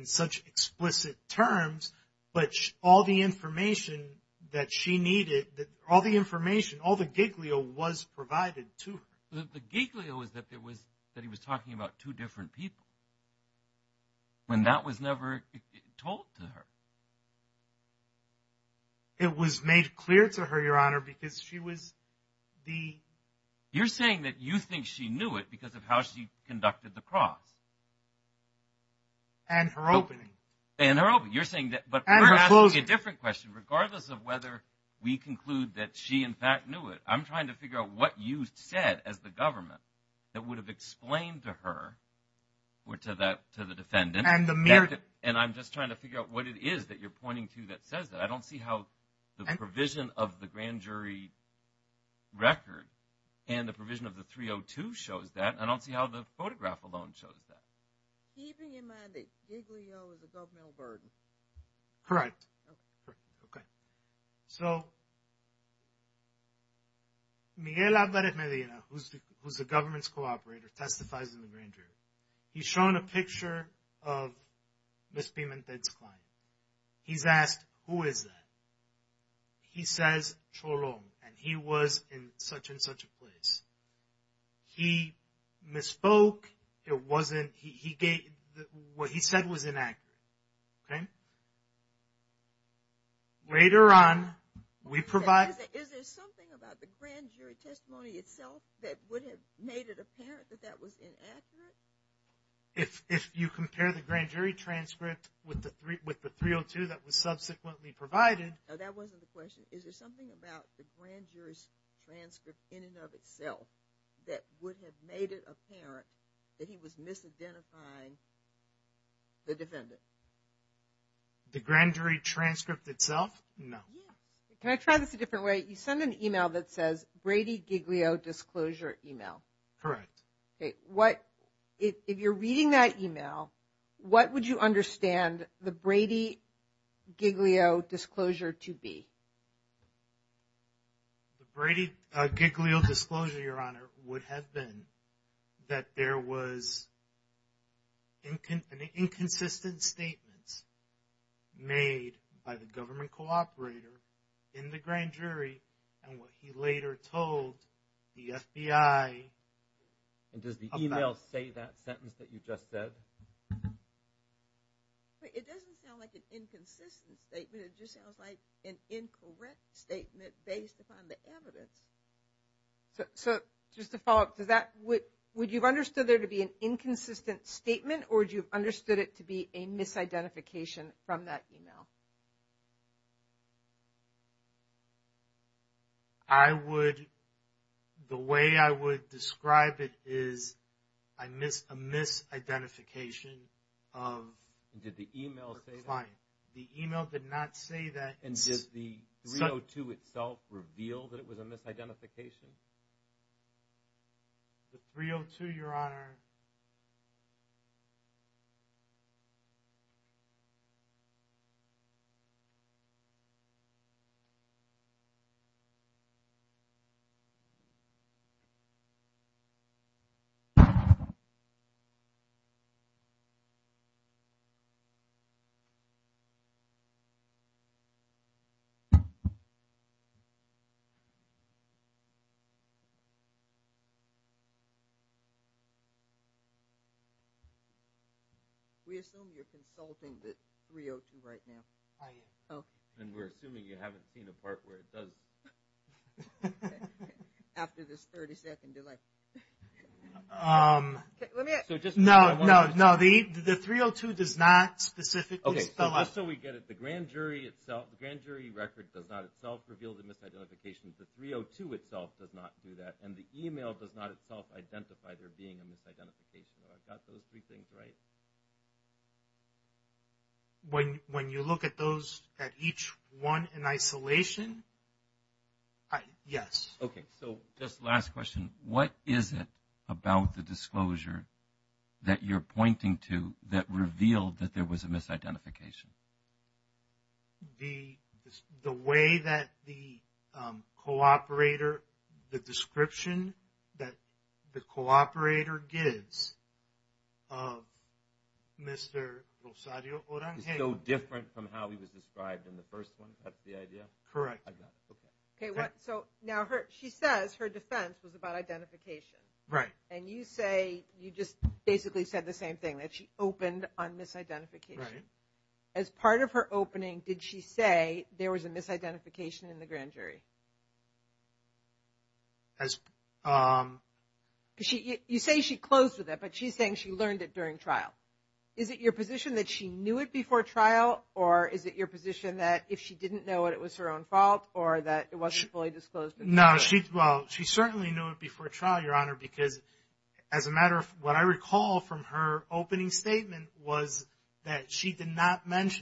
such explicit terms, but all the information that she needed, all the information, all the giglio was provided to her. The giglio is that he was talking about two different people, when that was never told to her. It was made clear to her, Your Honor, because she was the... You're saying that you think she knew it because of how she conducted the cross. And her opening. And her opening. You're saying that... But we're asking a different question, regardless of whether we conclude that she, in fact, knew it. I'm trying to figure out what you said as the government that would have explained to her or to the defendant. And I'm just trying to figure out what it is that you're pointing to that says that. I don't see how the provision of the grand jury record and the provision of the 302 shows that. I don't see how the photograph alone shows that. Keeping in mind that giglio is a governmental burden. Correct. Okay. So Miguel Albert Medina, who's the government's co-operator, testifies in the grand jury. He's shown a picture of Ms. Pimentel's client. He's asked, who is that? He says, Choron, and he was in such and such a place. He misspoke. It wasn't... What he said was inaccurate, okay? Later on, we provide... Is there something about the grand jury testimony itself that would have made it apparent that that was inaccurate? If you compare the grand jury transcript with the 302 that was subsequently provided... That wasn't the question. Is there something about the grand jury transcript in and of itself that would have made it apparent that he was misidentifying the defendant? The grand jury transcript itself? No. Can I try this a different way? You send an email that says, Brady Giglio disclosure email. Correct. What... If you're reading that email, what would you understand the Brady Giglio disclosure to be? The Brady Giglio disclosure, Your Honor, would have been that there was an inconsistent statement made by the government co-operator in the grand jury and what he later told the FBI... And does the email say that sentence that you just said? It doesn't sound like an inconsistent statement. It just sounds like an incorrect statement based upon the evidence. So just to follow up to that, would you've understood there to be an inconsistent statement or do you've understood it to be a misidentification from that email? I would... The way I would describe it is a misidentification of... Did the email say that? Fine. The email did not say that. And just the 302 itself revealed that it was a misidentification? The 302, Your Honor... We assume you're consulting this 302 right now? I am. Oh. And we're assuming you haven't seen the part where it doesn't. After this 30-second delay. No, no, no. The 302 does not specifically... Okay, so just so we get it. The grand jury record does not itself reveal the misidentification. The 302 itself does not do that. And the email does not itself identify there being a misidentification. So I've got those three things right. And when you look at those, at each one in isolation... Yes. Okay. So just last question. What is it about the disclosure that you're pointing to that revealed that there was a misidentification? The way that the co-operator, the description that the co-operator gives of Mr. Rosario O'Donnell... It's so different from how he was described in the first one. That's the idea? Correct. Okay, so now she says her defense was about identification. Right. And you say, you just basically said the same thing, that she opened on misidentification. Right. As part of her opening, did she say there was a misidentification in the grand jury? You say she closed with it, but she's saying she learned it during trial. Is it your position that she knew it before trial? Or is it your position that if she didn't know it, it was her own fault? Or that it wasn't fully disclosed? No, well, she certainly knew it before trial, Your Honor, because as a matter of what I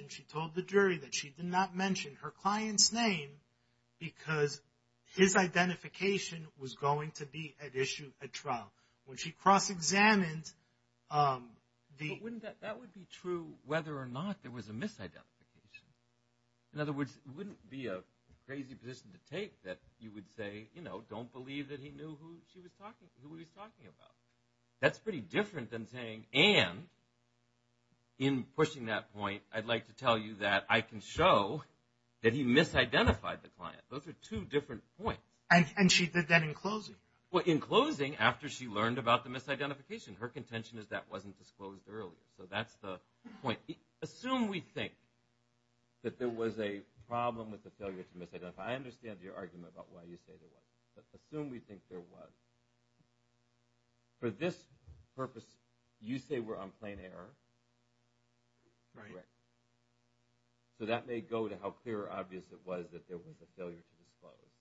She told the jury that she did not mention her client's name because his identification was going to be at issue at trial. When she cross-examined... That would be true whether or not there was a misidentification. In other words, it wouldn't be a crazy position to take that you would say, you know, don't believe that he knew who she was talking about. That's pretty different than saying, and in pushing that point, I'd like to tell you that I can show that he misidentified the client. Those are two different points. And she did that in closing? Well, in closing, after she learned about the misidentification. Her contention is that wasn't disclosed earlier. So that's the point. Assume we think that there was a problem with the failure to misidentify. I understand your argument about why you stated that. But assume we think there was. For this purpose, you say we're on plain error. So that may go to how clear or obvious it was that there was a failure to disclose.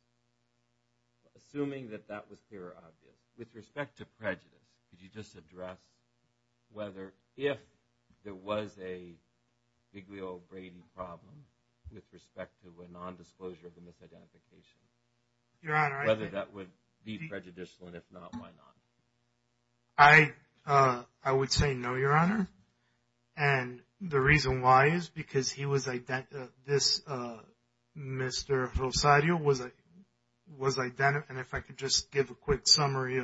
Assuming that that was clear or obvious. With respect to prejudice, could you just address whether if there was a Big Wheel of Braden problem with respect to a non-disclosure of a misidentification? You're out of order. Whether that would be prejudicial, and if not, why not? I would say no, Your Honor. And the reason why is because he was identified. This Mr. Rosario was identified. And if I could just give a quick summary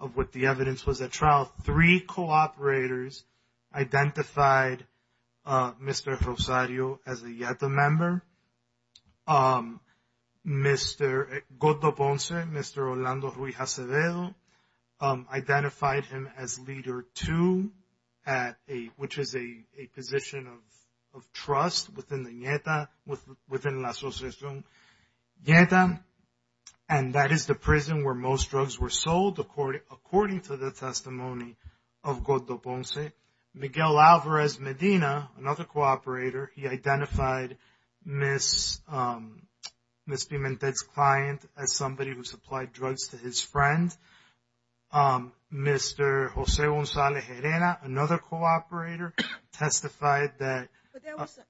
of what the evidence was at trial. Three cooperators identified Mr. Rosario as a YETA member. Mr. Godo Ponce, Mr. Orlando Ruiz-Acededo, identified him as Leader 2, which is a position of trust within the YETA, within the Association YETA. And that is the prison where most drugs were sold according to the testimony of Godo Ponce. Miguel Alvarez Medina, another cooperator, he identified Ms. Pimentel's client as somebody who supplied drugs to his friend. Mr. Jose Gonzalez Herrera, another cooperator, testified that... But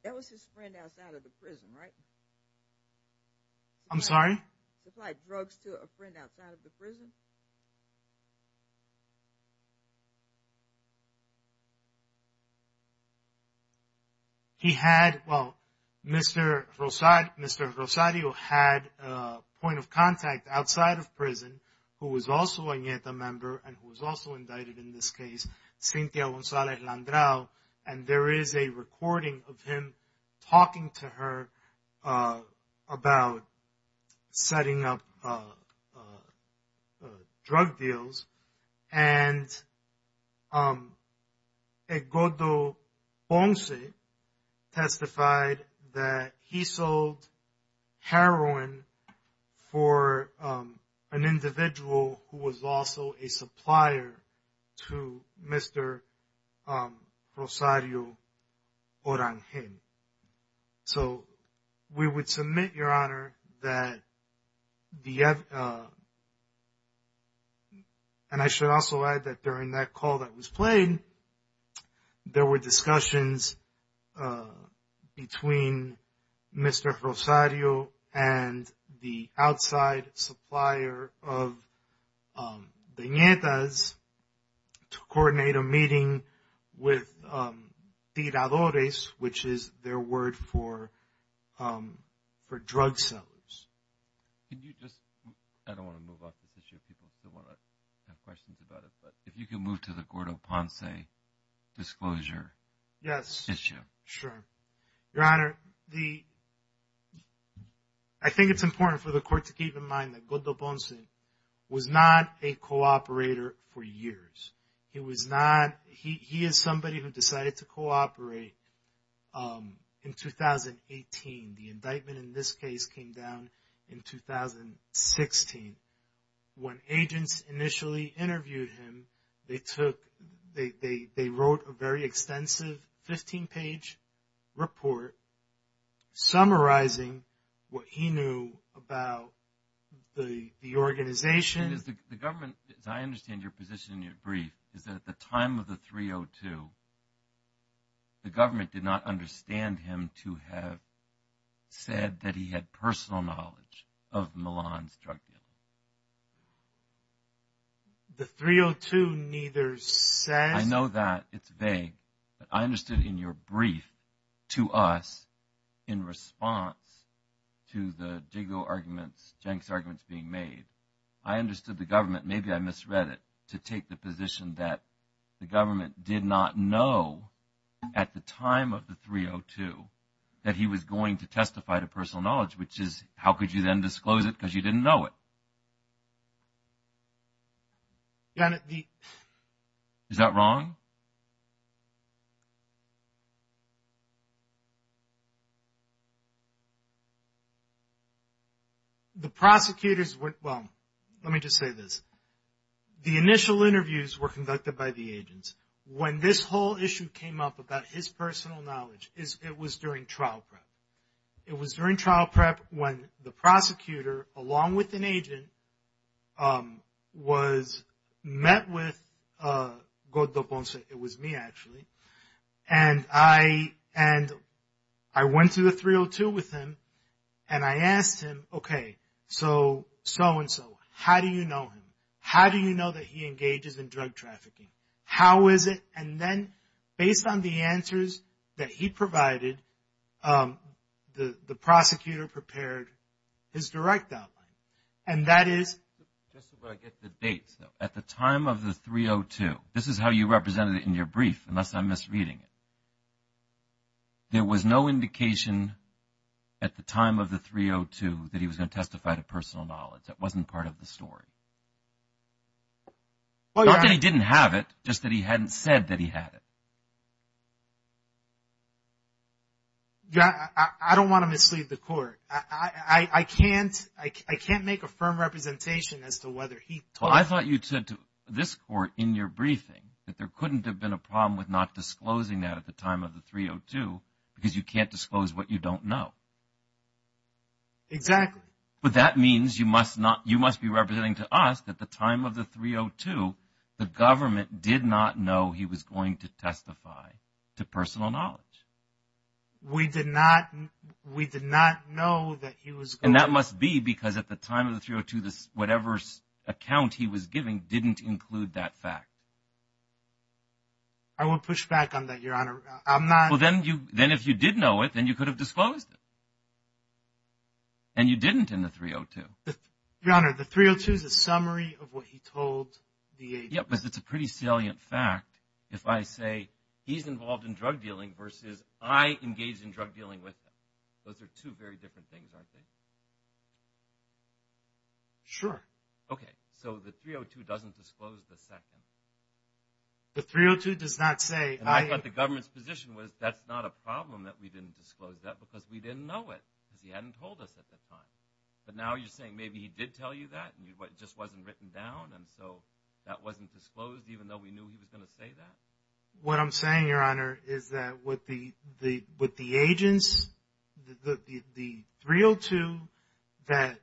that was his friend outside of the prison, right? I'm sorry? Supplied drugs to a friend outside of the prison? He had... Well, Mr. Rosario had a point of contact outside of prison who was also a YETA member and who was also indicted in this case, Cynthia Gonzalez Landau. And there is a recording of him talking to her about setting up a drug cartel. Drug deals. And Godo Ponce testified that he sold heroin for an individual who was also a supplier to Mr. Rosario Oranje. So we would submit, Your Honor, that the... And I should also add that during that call that was played, there were discussions between Mr. Rosario and the outside supplier of the Nientas to coordinate a meeting with tiradores, which is their word for drug sellers. Can you just... I don't want to move off this issue. People still have questions about it. But if you can move to the Godo Ponce disclosure issue. Yes, sure. Your Honor, I think it's important for the court to keep in mind that Godo Ponce was not a cooperator for years. He was not... He is somebody who decided to cooperate in 2018. The indictment in this case came down in 2016. When agents initially interviewed him, they wrote a very extensive 15-page report summarizing what he knew about the organization. The government, as I understand your position in your brief, is that at the time of the 302, the government did not understand him to have said that he had personal knowledge of Milan's drug use. The 302 neither said... I know that. It's vague. But I understood in your brief to us in response to the Jigo arguments, Jenks arguments being made. I understood the government, maybe I misread it, to take the position that the government did not know at the time of the 302 that he was going to testify to personal knowledge, which is how could you then disclose it because you didn't know it? Your Honor, the... Is that wrong? The prosecutors went... Well, let me just say this, the initial interviews were conducted by the agents. When this whole issue came up about his personal knowledge, it was during trial prep. It was during trial prep when the prosecutor, along with an agent, was met with Godo Bonsai It was me, actually. And I went to the 302 with him and I asked him, okay, so and so, how do you know him? How do you know that he engages in drug trafficking? How is it? And then based on the answers that he provided, the prosecutor prepared his direct outline. And that is... Just so I get the dates, at the time of the 302, this is how you represented it in your brief, unless I'm misreading it. There was no indication at the time of the 302 that he was going to testify to personal knowledge. That wasn't part of the story. Well, Your Honor... Not that he didn't have it, just that he hadn't said that he had it. Your Honor, I don't want to mislead the court. I can't make a firm representation as to whether he... I thought you said to this court, in your briefing, that there couldn't have been a problem with not disclosing that at the time of the 302, because you can't disclose what you don't know. Exactly. But that means you must not... You must be representing to us that at the time of the 302, the government did not know he was going to testify to personal knowledge. We did not... We did not know that he was... That must be because at the time of the 302, whatever account he was giving didn't include that fact. I will push back on that, Your Honor. I'm not... Well, then if you did know it, then you could have disclosed it. And you didn't in the 302. Your Honor, the 302 is a summary of what he told the agency. Yeah, but it's a pretty salient fact if I say, he's involved in drug dealing versus I engaged in drug dealing with him. Those are two very different things, I think. Sure. Okay. So the 302 doesn't disclose the second. The 302 does not say... I thought the government's position was, that's not a problem that we didn't disclose that, because we didn't know it. He hadn't told us at the time. But now you're saying maybe he did tell you that, and it just wasn't written down, and so that wasn't disclosed even though we knew he was going to say that. What I'm saying, Your Honor, is that with the agents, the 302 that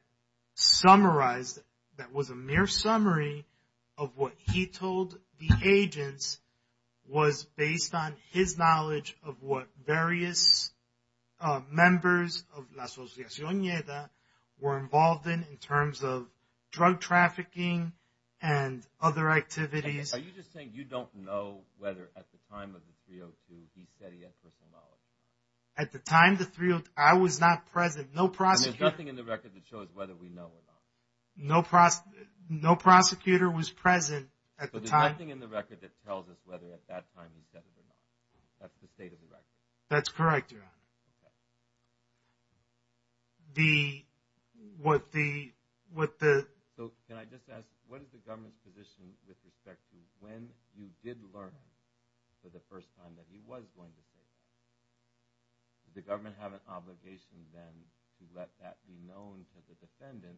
summarized, that was a mere summary of what he told the agents, was based on his knowledge of what various members of La Asociación Lleda were involved in, in terms of drug trafficking and other activities. Are you just saying you don't know whether at the time of the 302, he said he had such a knowledge? At the time of the 302, I was not present. I mean, there's nothing in the record that shows whether we know or not. No prosecutor was present at the time. But there's nothing in the record that tells us whether at that time he said it or not. That's the state of the record. That's correct, Your Honor. So can I just ask, what is the government's position with respect to when you did learn for the first time that he was going to say it? Did the government have an obligation, then, to let that be known to the defendant?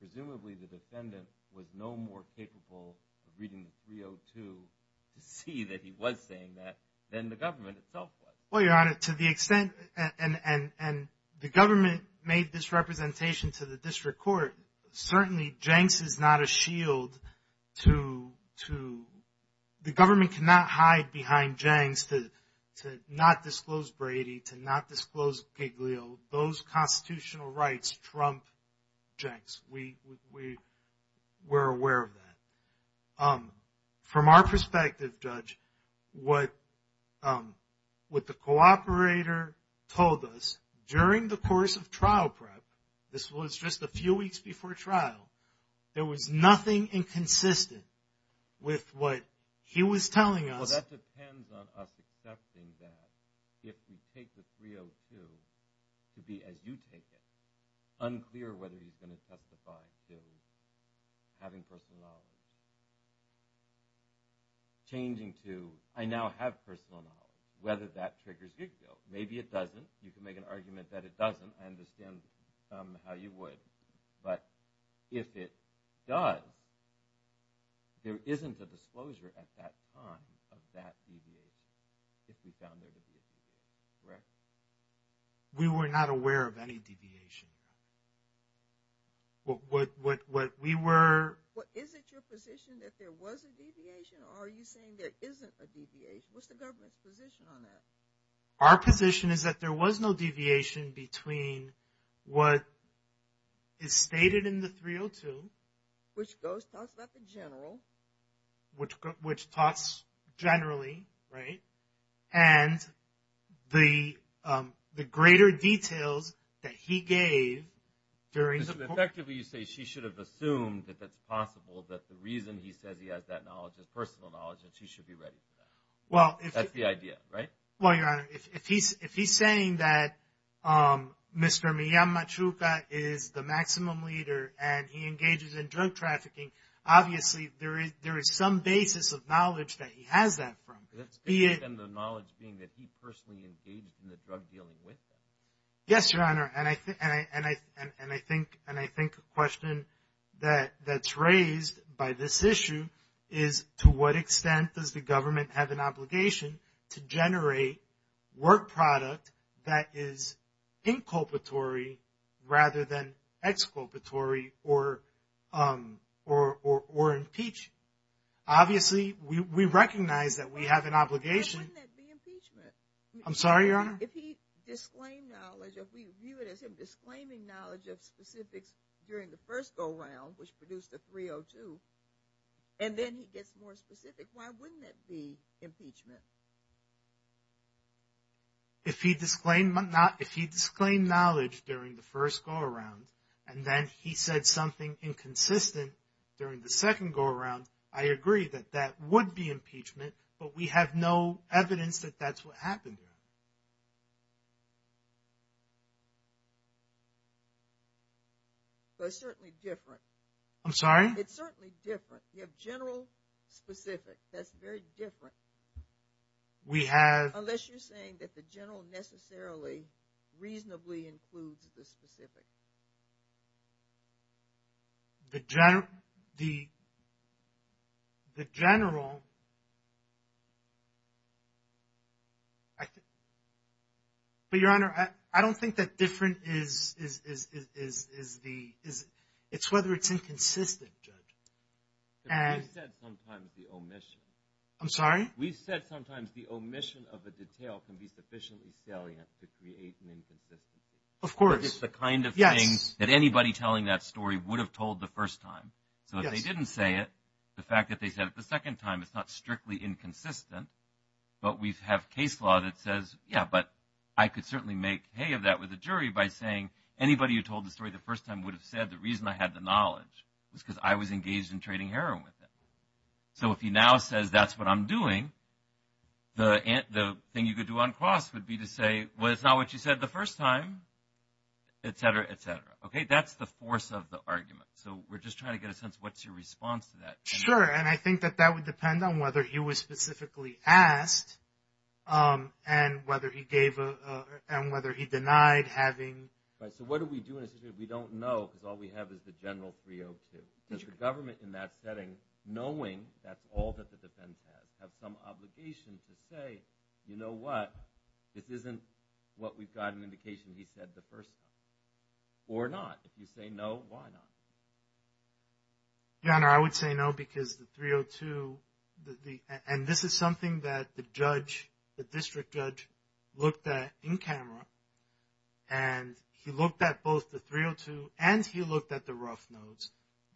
Presumably, the defendant was no more capable of reading the 302 to see that he was saying that than the government itself was. Well, Your Honor, to the extent, and the government made this representation to the district court, certainly JANKS is not a shield to… to not disclose Brady, to not disclose Giglio. Those constitutional rights trump JANKS. We were aware of that. From our perspective, Judge, what the cooperator told us during the course of trial prep, this was just a few weeks before trial, there was nothing inconsistent with what he was telling us. Well, that depends on us accepting that. If we take the 302 to be, as you think it, unclear whether he's going to testify to having personality, changing to, I now have personality, whether that triggers Giglio. Maybe it doesn't. You can make an argument that it doesn't and assume how you would. But if it does, there isn't a disclosure at that time of that deviation. If we found there to be a deviation, correct? We were not aware of any deviation. What we were… Well, isn't your position that there was a deviation or are you saying there isn't a deviation? What's the government's position on that? Our position is that there was no deviation between what is stated in the 302. Which talks about the general. Which talks generally, right? And the greater detail that he gave during… So, effectively, you say she should have assumed if it's possible that the reason he said he had that knowledge, his personal knowledge, that she should be ready for that. Well, if… That's the idea, right? Well, Your Honor, if he's saying that Mr. Miyama Chuka is the maximum leader and he engages in drug trafficking, obviously, there is some basis of knowledge that he has that from. And the knowledge being that he personally engaged in the drug dealing with her? Yes, Your Honor. And I think the question that's raised by this issue is to what extent does the government have an obligation to generate work product that is inculpatory rather than exculpatory or impeach? Obviously, we recognize that we have an obligation. Why wouldn't that be impeachment? I'm sorry, Your Honor? If he disclaimed knowledge, if we view it as him disclaiming knowledge of specifics during the first go-round, which produced the 302, and then he gets more specific, why wouldn't that be impeachment? If he disclaimed knowledge during the first go-round and then he said something inconsistent during the second go-round, I agree that that would be impeachment, but we have no evidence that that's what happened. So it's certainly different. I'm sorry? It's certainly different. You have general specifics. That's very different. We have... Unless you're saying that the general necessarily reasonably includes the specific. The general... But, Your Honor, I don't think that different is whether it's inconsistent. And... We've said sometimes the omission. I'm sorry? We've said sometimes the omission of the detail can be sufficiently salient to create an inconsistency. Of course. It's the kind of thing that anybody telling that story would have told the first time. So if they didn't say it, the fact that they said it the second time, it's not strictly inconsistent, but we have case law that says, yeah, but I could certainly make hay of that with a jury by saying anybody who told the story the first time would have said the reason I had the knowledge was because I was engaged in trading heroin with them. So if he now says that's what I'm doing, the thing you could do on cross would be to say, well, it's not what you said the first time, et cetera, et cetera. Okay? That's the force of the argument. So we're just trying to get a sense of what's your response to that. Sure. And I think that that would depend on whether he was specifically asked and whether he denied having... Right. So what do we do if we don't know? Because all we have is the general preemptive. The government in that setting, knowing that's all that the defense has, have some obligation to say, you know what, this isn't what we've got an indication he said the first time. Or not. If you say no, why not? Your Honor, I would say no because the 302, and this is something that the judge, the district judge looked at in camera, and he looked at both the 302 and he looked at the rough notes.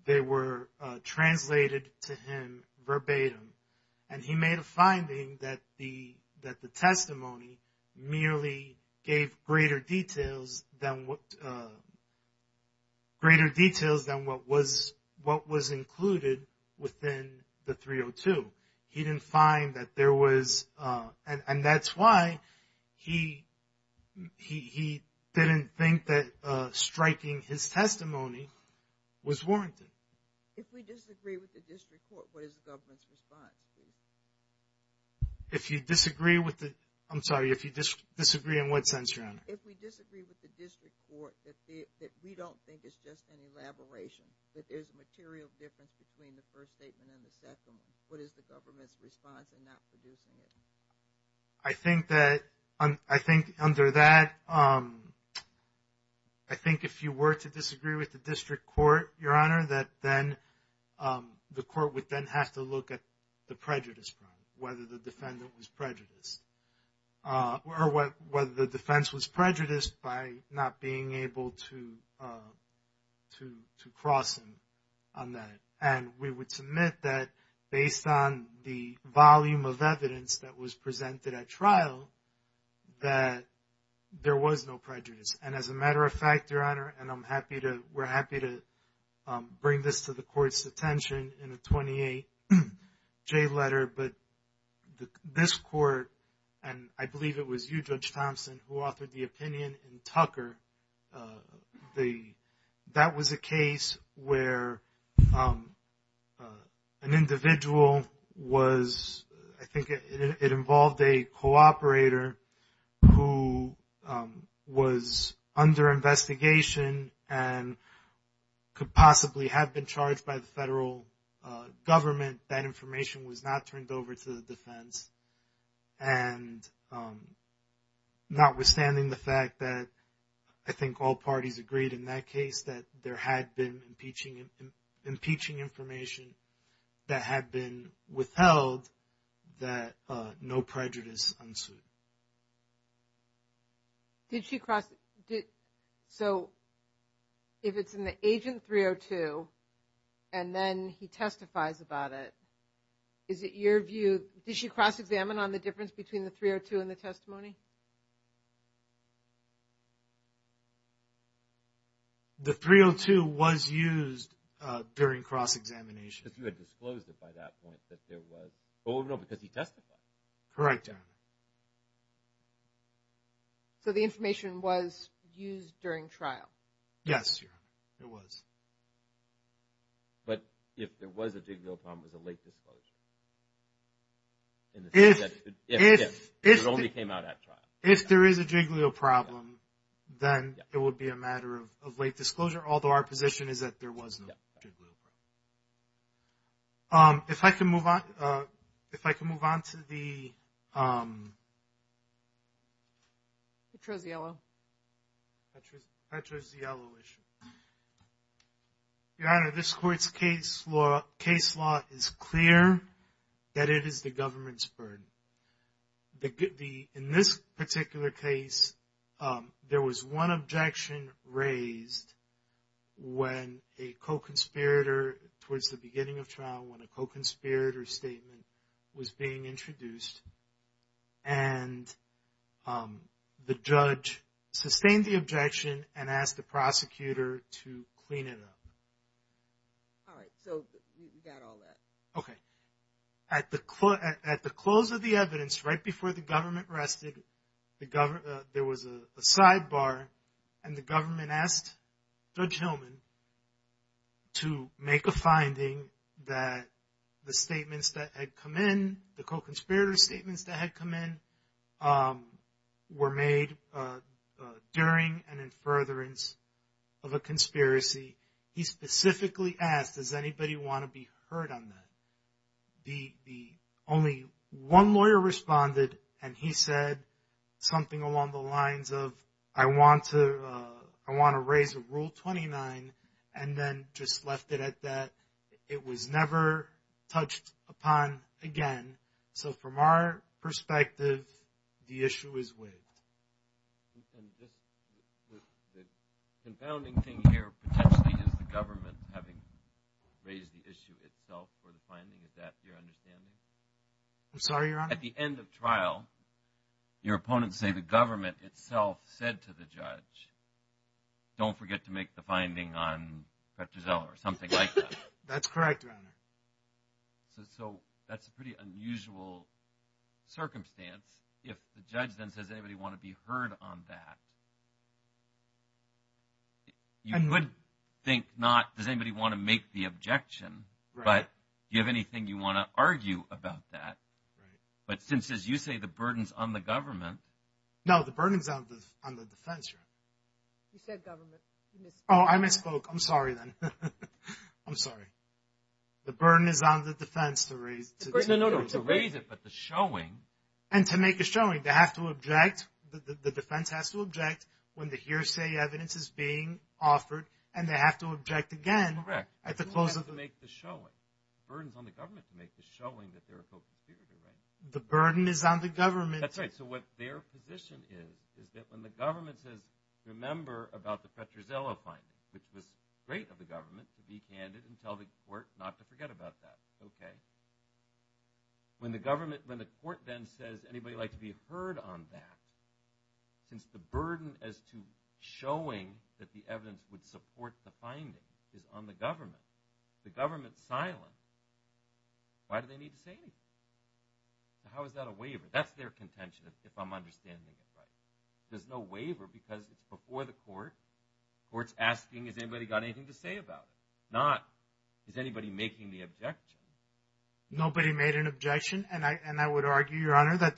They were translated to him verbatim. And he made a finding that the testimony merely gave greater details than what was included within the 302. He didn't find that there was... And that's why he didn't think that striking his testimony was warranted. If we disagree with the district court, what is the government's response? If you disagree with the... I'm sorry, if you disagree in what sense, Your Honor? If we disagree with the district court, that we don't think it's just an elaboration, that there's material difference between the first statement and the second, what is the government's response in not producing it? I think that... I think under that... I think if you were to disagree with the district court, Your Honor, that then the court would then have to look at the prejudice, whether the defendant was prejudiced, or whether the defense was prejudiced by not being able to cross him on that. And we would submit that based on the volume of evidence that was presented at trial, that there was no prejudice. And as a matter of fact, Your Honor, and I'm happy to... We're happy to bring this to the court's attention in a 28J letter, but this court, and I believe it was you, Judge Thompson, who offered the opinion in Tucker, that was a case where an individual was... who was under investigation, and could possibly have been charged by the federal government, that information was not turned over to the defense. And notwithstanding the fact that I think all parties agreed in that case, that there had been impeaching information that had been withheld, that no prejudice ensued. So, if it's in the Agent 302, and then he testifies about it, is it your view... Did she cross-examine on the difference between the 302 and the testimony? The 302 was used during cross-examination. You had disclosed it by that point that there was... Oh, no, because he testified. Correct. So, the information was used during trial? Yes, Your Honor, it was. But if there was a jigwheel problem, it was a late disclosure. It only came out at trial. If there is a jigwheel problem, then it would be a matter of late disclosure, although our position is that there was no jigwheel problem. If I can move on... If I can move on to the... Petro-Ziello. Petro-Ziello issue. Your Honor, this court's case law is clear that it is the government's burden. In this particular case, there was one objection raised when a co-conspirator, towards the beginning of trial, when a co-conspirator statement was being introduced, and the judge sustained the objection and asked the prosecutor to clean it up. All right, so we got all that. Okay. At the close of the evidence, right before the government rested, the government... There was a sidebar, and the government asked Judge Hillman to make a finding that the statements that had come in, the co-conspirator statements that had come in, were made during and in furtherance of a conspiracy. He specifically asked, does anybody want to be heard on that? The only one lawyer responded, and he said something along the lines of, I want to raise a Rule 29, and then just left it at that. It was never touched upon again. So from our perspective, the issue is with... The confounding thing here, potentially, is the government having raised the issue itself for the finding. Is that your understanding? I'm sorry, Your Honor. At the end of trial, your opponents say the government itself said to the judge, don't forget to make the finding on Petrozzella, or something like that. That's correct, Your Honor. So that's a pretty unusual circumstance. If the judge then says, does anybody want to be heard on that? You would think not, does anybody want to make the objection? But do you have anything you want to argue about that? But since, as you say, the burden's on the government... No, the burden is on the defense, Your Honor. You said government. Oh, I misspoke. I'm sorry then. I'm sorry. The burden is on the defense to raise. No, no, no, to raise it, but the showing... And to make a showing. They have to object, the defense has to object when the hearsay evidence is being offered, and they have to object again at the close of the hearing. The burden's on the government to make the showing that they're opposed to the hearing. The burden is on the government. That's right. So what their position is, is that when the government has remembered about the Petrozzella finding, which was great of the government to be candid and tell the court not to forget about that, okay. When the government, when the court then says, anybody like to be heard on that, since the burden as to showing that the evidence would support the finding is on the government, the government's silent, why do they need to say anything? How is that a waiver? That's their contention, if I'm understanding this right. There's no waiver because it's before the court, the court's asking, has anybody got anything to say about it? Not, is anybody making the objection? Nobody made an objection, and I would argue, Your Honor, that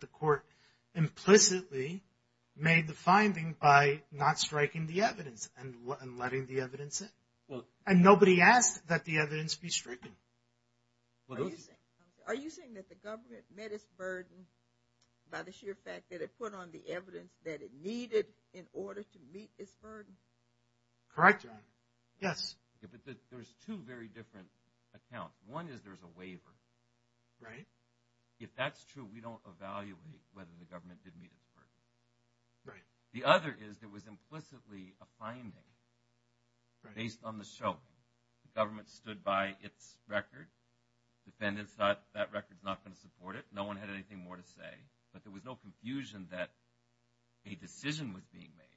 the court implicitly made the finding by not striking the evidence and letting the evidence in. And nobody asked that the evidence be stricken. Are you saying that the government met its burden by the sheer fact that it put on the evidence that it needed in order to meet its burden? Correct, Your Honor. Yes. There's two very different accounts. One is there's a waiver. Right. If that's true, we don't evaluate whether the government did meet its burden. Right. The other is it was implicitly a finding based on the show. The government stood by its record. Defendants thought that record's not going to support it. No one had anything more to say. But there was no confusion that a decision was being made.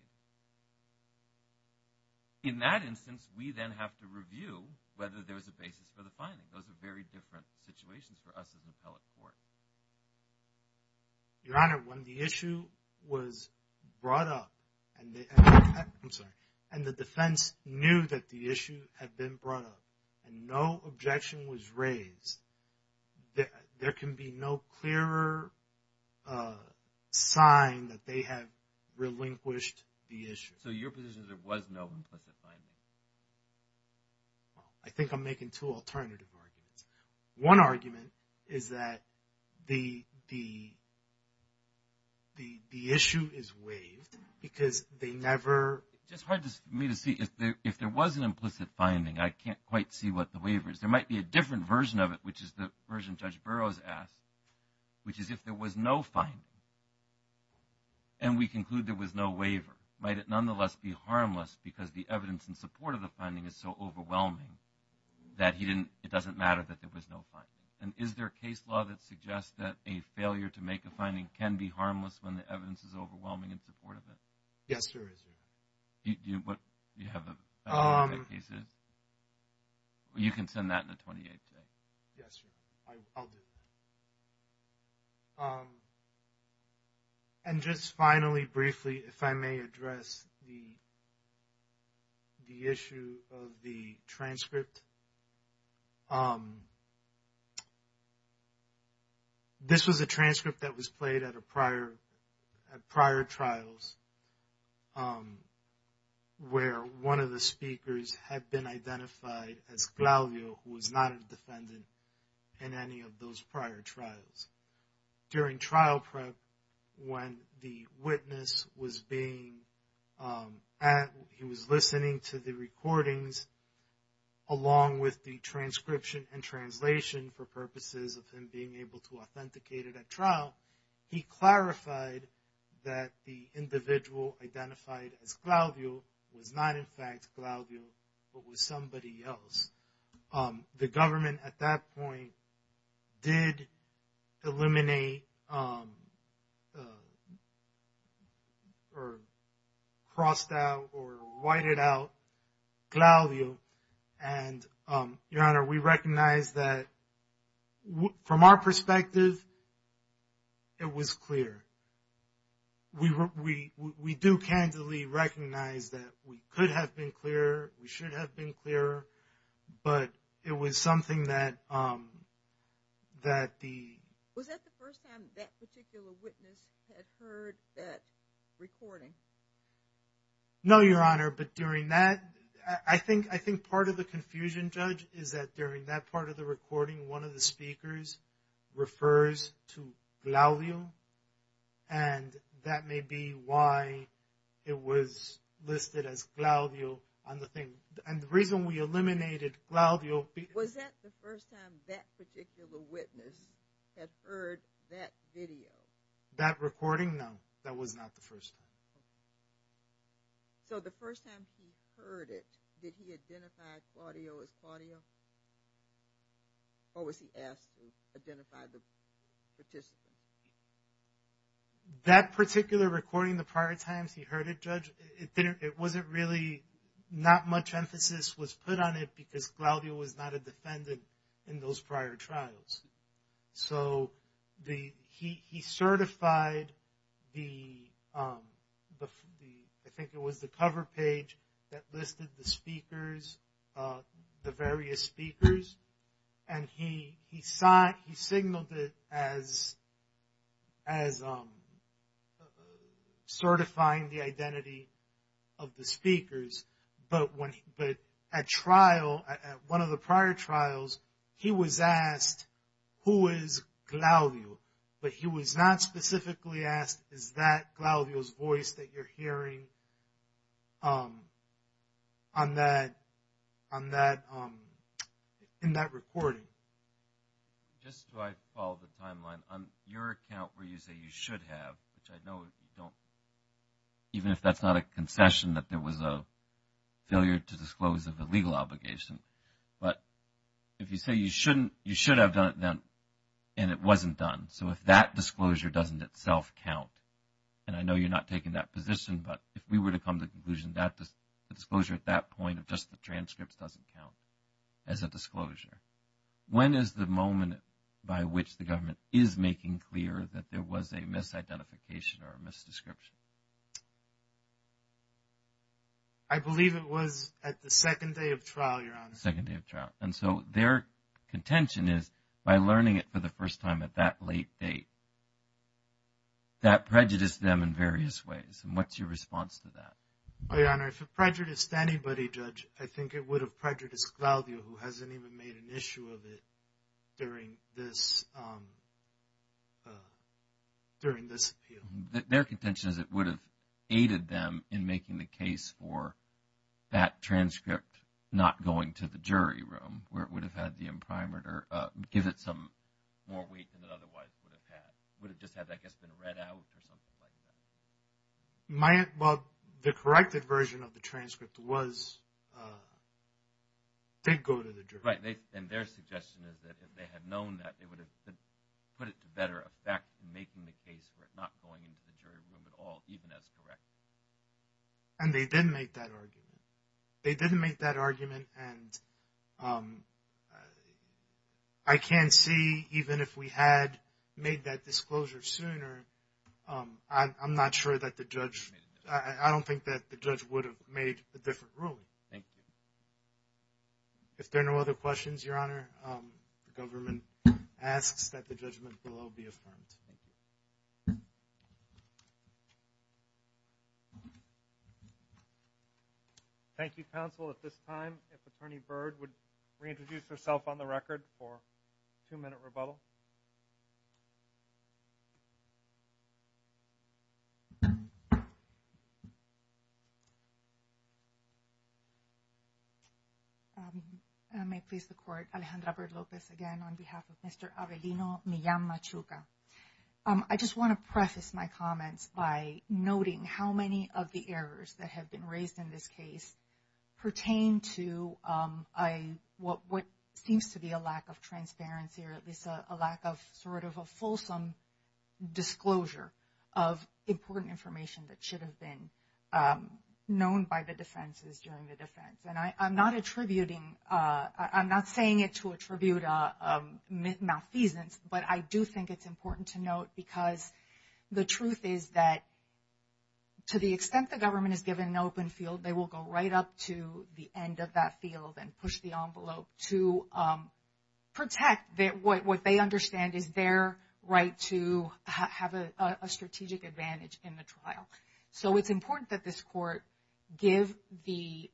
In that instance, we then have to review whether there's a basis for the finding. Those are very different situations for us as an appellate court. Your Honor, when the issue was brought up and the defense knew that the issue had been brought up and no objection was raised, there can be no clearer sign that they have relinquished the issue. So your position is there was no implicit finding? I think I'm making two alternative arguments. One argument is that the issue is waived because they never… It's hard for me to see if there was an implicit finding. I can't quite see what the waiver is. There might be a different version of it, which is the version Judge Burroughs asked, which is if there was no finding and we conclude there was no waiver, might it nonetheless be harmless because the evidence in support of the finding is so overwhelming that it doesn't matter that there was no finding? And is there a case law that suggests that a failure to make a finding can be harmless when the evidence is overwhelming in support of it? Yes, there is. You have a… You can send that in the 28th day. Yes, I will. This is a transcript that was played at a prior…at prior trials where one of the speakers had been identified as Claudio, who was not a defendant in any of those prior trials. During trial prep, when the witness was being…he was listening to the recordings along with the transcription and translation for purposes of him being able to authenticate it at trial, he clarified that the individual identified as Claudio was not in fact Claudio but was somebody else. The government at that point did eliminate or crossed out or whited out Claudio and, Your Honor, we recognize that from our perspective, it was clear. We do candidly recognize that we could have been clearer, we should have been clearer, but it was something that… Was that the first time that particular witness had heard that recording? No, Your Honor, but during that…I think part of the confusion, Judge, is that during that part of the recording, one of the speakers refers to Claudio and that may be why it was listed as Claudio on the thing. And the reason we eliminated Claudio… Was that the first time that particular witness has heard that video? That recording? No, that was not the first. So the first time he heard it, did he identify Claudio as Claudio? Or was he asked to identify the participant? That particular recording, the prior times he heard it, Judge, it wasn't really not much was put on it because Claudio was not a defendant in those prior trials. So he certified the…I think it was the cover page that listed the speakers, the various speakers, and he signaled it as certifying the identity of the speakers, but at trial, at one of the prior trials, he was asked, who is Claudio? But he was not specifically asked, is that Claudio's voice that you're hearing in that recording? Just to follow the timeline, on your account where you say you should have, I know, even if that's not a confession that there was a failure to disclose of the legal obligation, but if you say you shouldn't, you should have done it then, and it wasn't done, so if that disclosure doesn't itself count, and I know you're not taking that position, but if we were to come to the conclusion that the disclosure at that point of just the transcript doesn't count as a disclosure, when is the moment by which the government is making clear that there was a misidentification or a misdescription? I believe it was at the second day of trial, Your Honor. Second day of trial, and so their contention is, by learning it for the first time at that late date, that prejudiced them in various ways, and what's your response to that? Well, Your Honor, if it prejudiced anybody, Judge, I think it would have prejudiced Claudio, who hasn't even made an issue of it during this, during this appeal. Their contention is it would have aided them in making the case for that transcript not going to the jury room, where it would have had the imprimatur, give it some more weight than it otherwise would have had. It would have just had that, I guess, been read out or something like that. My, well, the corrected version of the transcript was they'd go to the jury. Right, and their suggestion is that if they had known that, they would have put it to better effect in making the case for it not going into the jury room at all, even as corrected. And they didn't make that argument. They didn't make that argument, and I can't see, even if we had made that disclosure sooner, I'm not sure that the judge, I don't think that the judge would have made a different ruling. If there are no other questions, Your Honor, the government asks that the judgment below be affirmed. Thank you, counsel. At this time, if Attorney Byrd would reintroduce herself on the record for a two-minute rebuttal. I may please the court, Alejandra Verlopez again, on behalf of Mr. Avelino Millan-Machuca. I just want to preface my comments by noting how many of the errors that have been raised in this case pertain to what seems to be a lack of transparency or at least a lack of sort of a fulsome disclosure of important information that should have been known by the defenses during the defense. And I'm not attributing, I'm not saying it to attribute a mis-season, but I do think it's important to note because the truth is that to the extent the government is given an open field, they will go right up to the end of that field and push the envelope to protect what they understand is their right to have a strategic advantage in the trial. So it's important that this court give the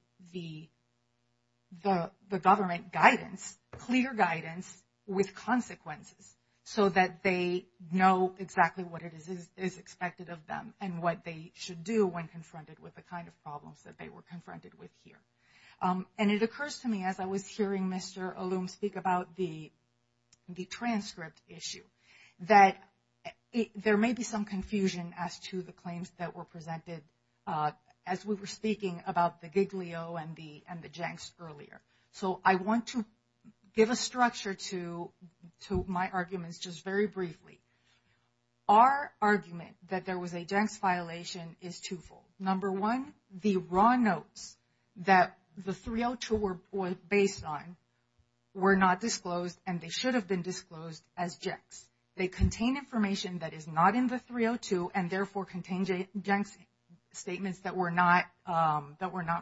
government guidance, clear guidance, with consequences so that they know exactly what it is expected of them and what they should do when confronted with the kind of problems that they were confronted with here. And it occurs to me as I was hearing Mr. Olum speak about the transcript issue that there may be some confusion as to the claims that were presented as we were speaking about the Giglio and the Jencks earlier. So I want to give a structure to my arguments just very briefly. Our argument that there was a Jencks violation is twofold. Number one, the raw notes that the 302 were based on were not disclosed and they should have been disclosed as Jencks. They contain information that is not in the 302 and therefore contain Jencks statements that were not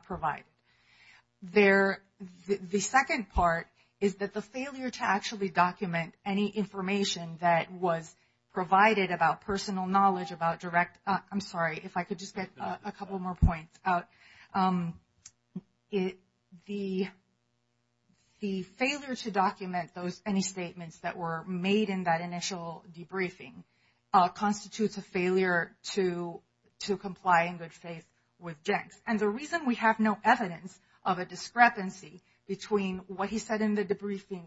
provided. The second part is that the failure to actually document any information that was provided about personal knowledge about direct – I'm sorry, if I could just get a couple more points out. The failure to document any statements that were made in that initial debriefing constitutes a failure to comply in good faith with Jencks. And the reason we have no evidence of a discrepancy between what he said in the debriefing,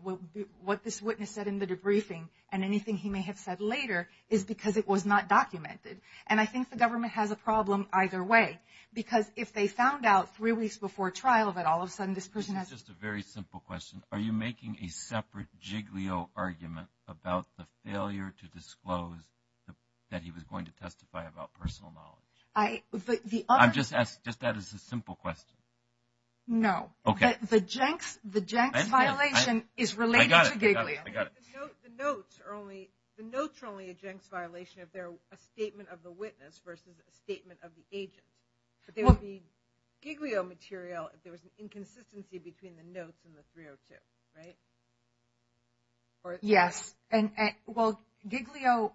what this witness said in the debriefing and anything he may have said later is because it was not documented. And I think the government has a problem either way. Because if they found out three weeks before trial that all of a sudden this person has – Just a very simple question. Are you making a separate Giglio argument about the failure to disclose that he was going to testify about personal knowledge? I – but the other – I'm just asking – just that as a simple question. No. But the Jencks – the Jencks violation is related to Giglio. I got it. I got it. The notes are only – the notes are only a Jencks violation if they're a statement of the witness versus a statement of the agent. So there would be Giglio material if there was an inconsistency between the notes and the 302, right? Yes. And – well, Giglio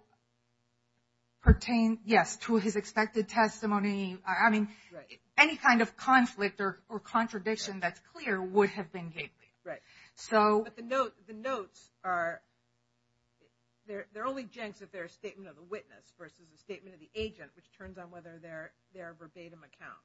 pertained, yes, to his expected testimony. I mean, any kind of conflict or contradiction that's clear would have been Giglio. Right. So – But the notes – the notes are – they're only Jencks if they're a statement of the witness versus a statement of the agent, which turns on whether they're a verbatim account.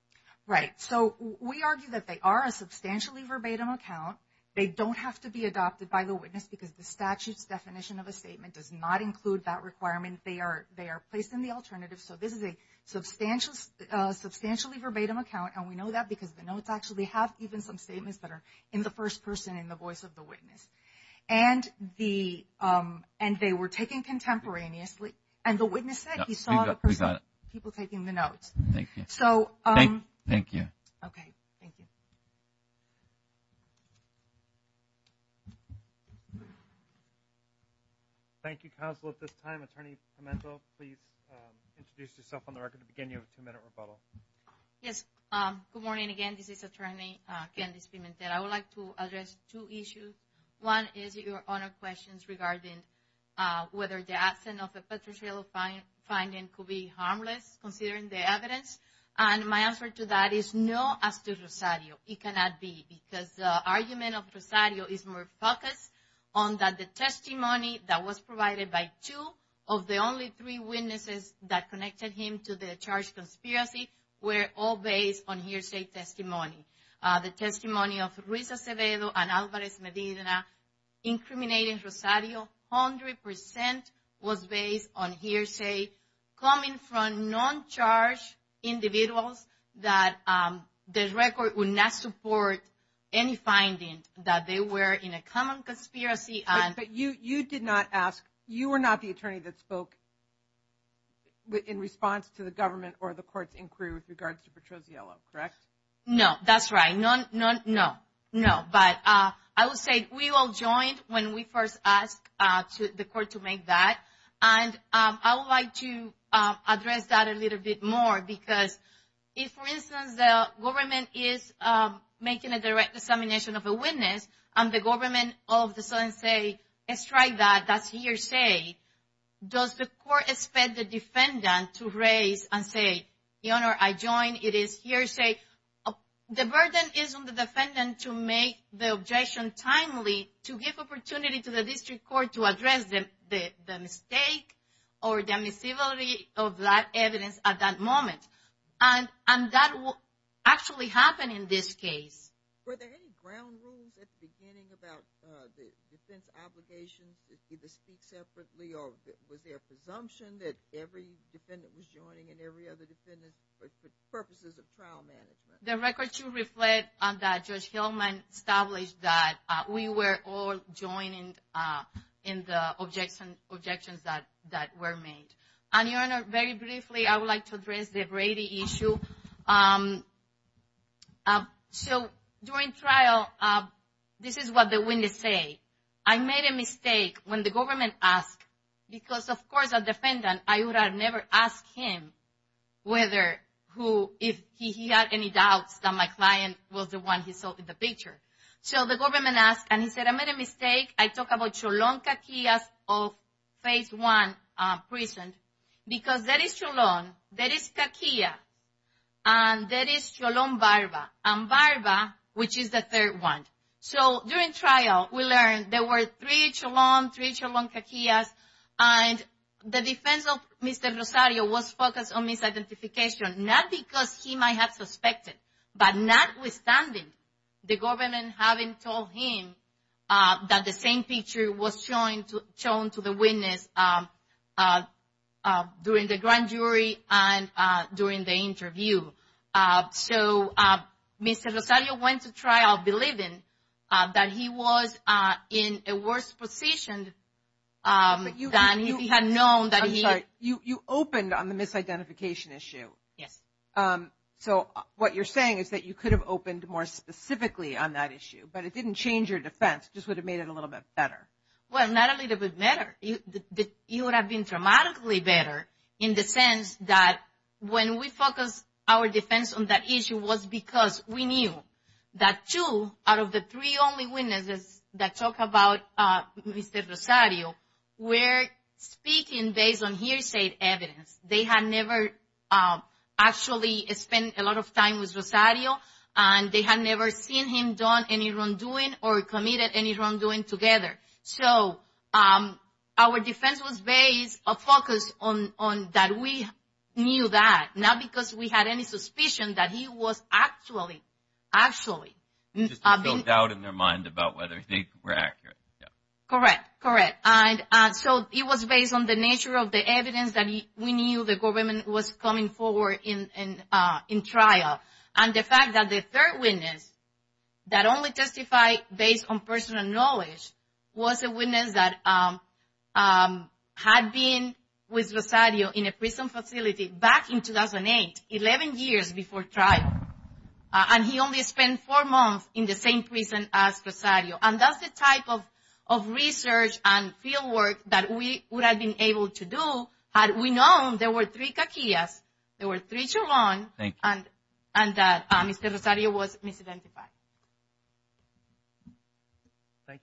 Right. So we argue that they are a substantially verbatim account. They don't have to be adopted by the witness because the statute definition of a statement does not include that requirement. They are placed in the alternative. So this is a substantially verbatim account. And we know that because the notes actually have even some statements that are in the first person in the voice of the witness. And the – and they were taken contemporaneously. And the witness said he saw the person – We got it. People taking the notes. Thank you. So – Thank you. Okay. Thank you. Thank you, counsel. At this time, Attorney Pimento, please introduce yourself on the record at the beginning of the two-minute rebuttal. Yes. Good morning again. This is Attorney Candice Pimentel. I would like to address two issues. One is your honor questions regarding whether the absence of a Petrocello finding could be harmless considering the evidence. And my answer to that is no, as to Rosario. It cannot be because the argument of Rosario is more focused on that the testimony that was provided by two of the only three witnesses that connected him to the charged conspiracy were all based on hearsay testimony. The testimony of Ruiz Acevedo and Alvarez Medina incriminating Rosario 100 percent was based on hearsay coming from non-charged individuals that the record would not support any findings that they were in a common conspiracy and – But you did not ask – you were not the attorney that spoke in response to the government or the courts in Peru with regards to Petrocello, correct? No, that's right. No, no, no, no. But I would say we all joined when we first asked the court to make that. And I would like to address that a little bit more because if, for instance, the government is making a direct dissemination of a witness and the government all of a sudden say, it's like that, that's hearsay, does the court expect the defendant to raise and say, your Honor, I joined, it is hearsay? The burden is on the defendant to make the objection timely, to give opportunity to the district court to address the mistake or the miscibility of that evidence at that moment. And that will actually happen in this case. Were there any ground rules at the beginning about the defense applications, did they speak separately or was there a presumption that every defendant was joining and every other defendant for purposes of trial management? The record should reflect that Judge Hillman established that we were all joining in the objections that were made. And, your Honor, very briefly, I would like to address the Brady issue. So during trial, this is what the witness say, I made a mistake when the government asked, because, of course, the defendant, I would have never asked him whether he had any doubts that my client was the one he saw in the picture. So the government asked, and he said, I made a mistake, I talk about Cholon, Kakias of State 1 prison, because there is Cholon, there is Kakias, and there is Cholon Barba, and Barba, which is the third one. So during trial, we learned there were three Cholon, three Cholon Kakias, and the defense of Mr. Rosario was focused on misidentification, not because he might have suspected, but notwithstanding the government having told him that the same picture was shown to the witness during the grand jury and during the interview. So Mr. Rosario went to trial believing that he was in a worse position than if he had known that he... I'm sorry, you opened on the misidentification issue. Yes. So what you're saying is that you could have opened more specifically on that issue, but it didn't change your defense, just would have made it a little bit better. Well, not a little bit better. It would have been dramatically better in the sense that when our defense on that issue was because we knew that two out of the three only witnesses that talk about Mr. Rosario were speaking based on hearsay evidence. They had never actually spent a lot of time with Rosario, and they had never seen him done any wrongdoing or committed any knew that, not because we had any suspicion that he was actually... No doubt in their mind about whether they were accurate. Correct. Correct. And so it was based on the nature of the evidence that we knew the government was coming forward in trial. And the fact that the third witness that only testified based on personal knowledge was a witness that had been with Rosario in a prison facility back in 2008, 11 years before trial. And he only spent four months in the same prison as Rosario. And that's the type of research and fieldwork that we would have been able to do had we known there were three witnesses. Thank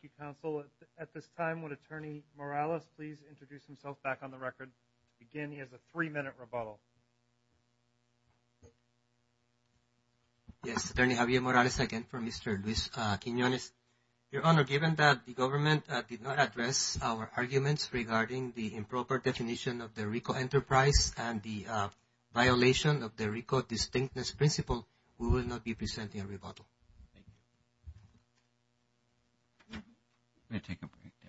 you. At this time, would Attorney Morales please introduce himself back on the record? Again, he has a three-minute rebuttal. Yes, Attorney Javier Morales again for Mr. Luis Quinonez. Your Honor, given that the government did not address our arguments regarding the improper definition of the RICO enterprise and the violation of the RICO distinctness principle, we will not be presenting a rebuttal. Thank you.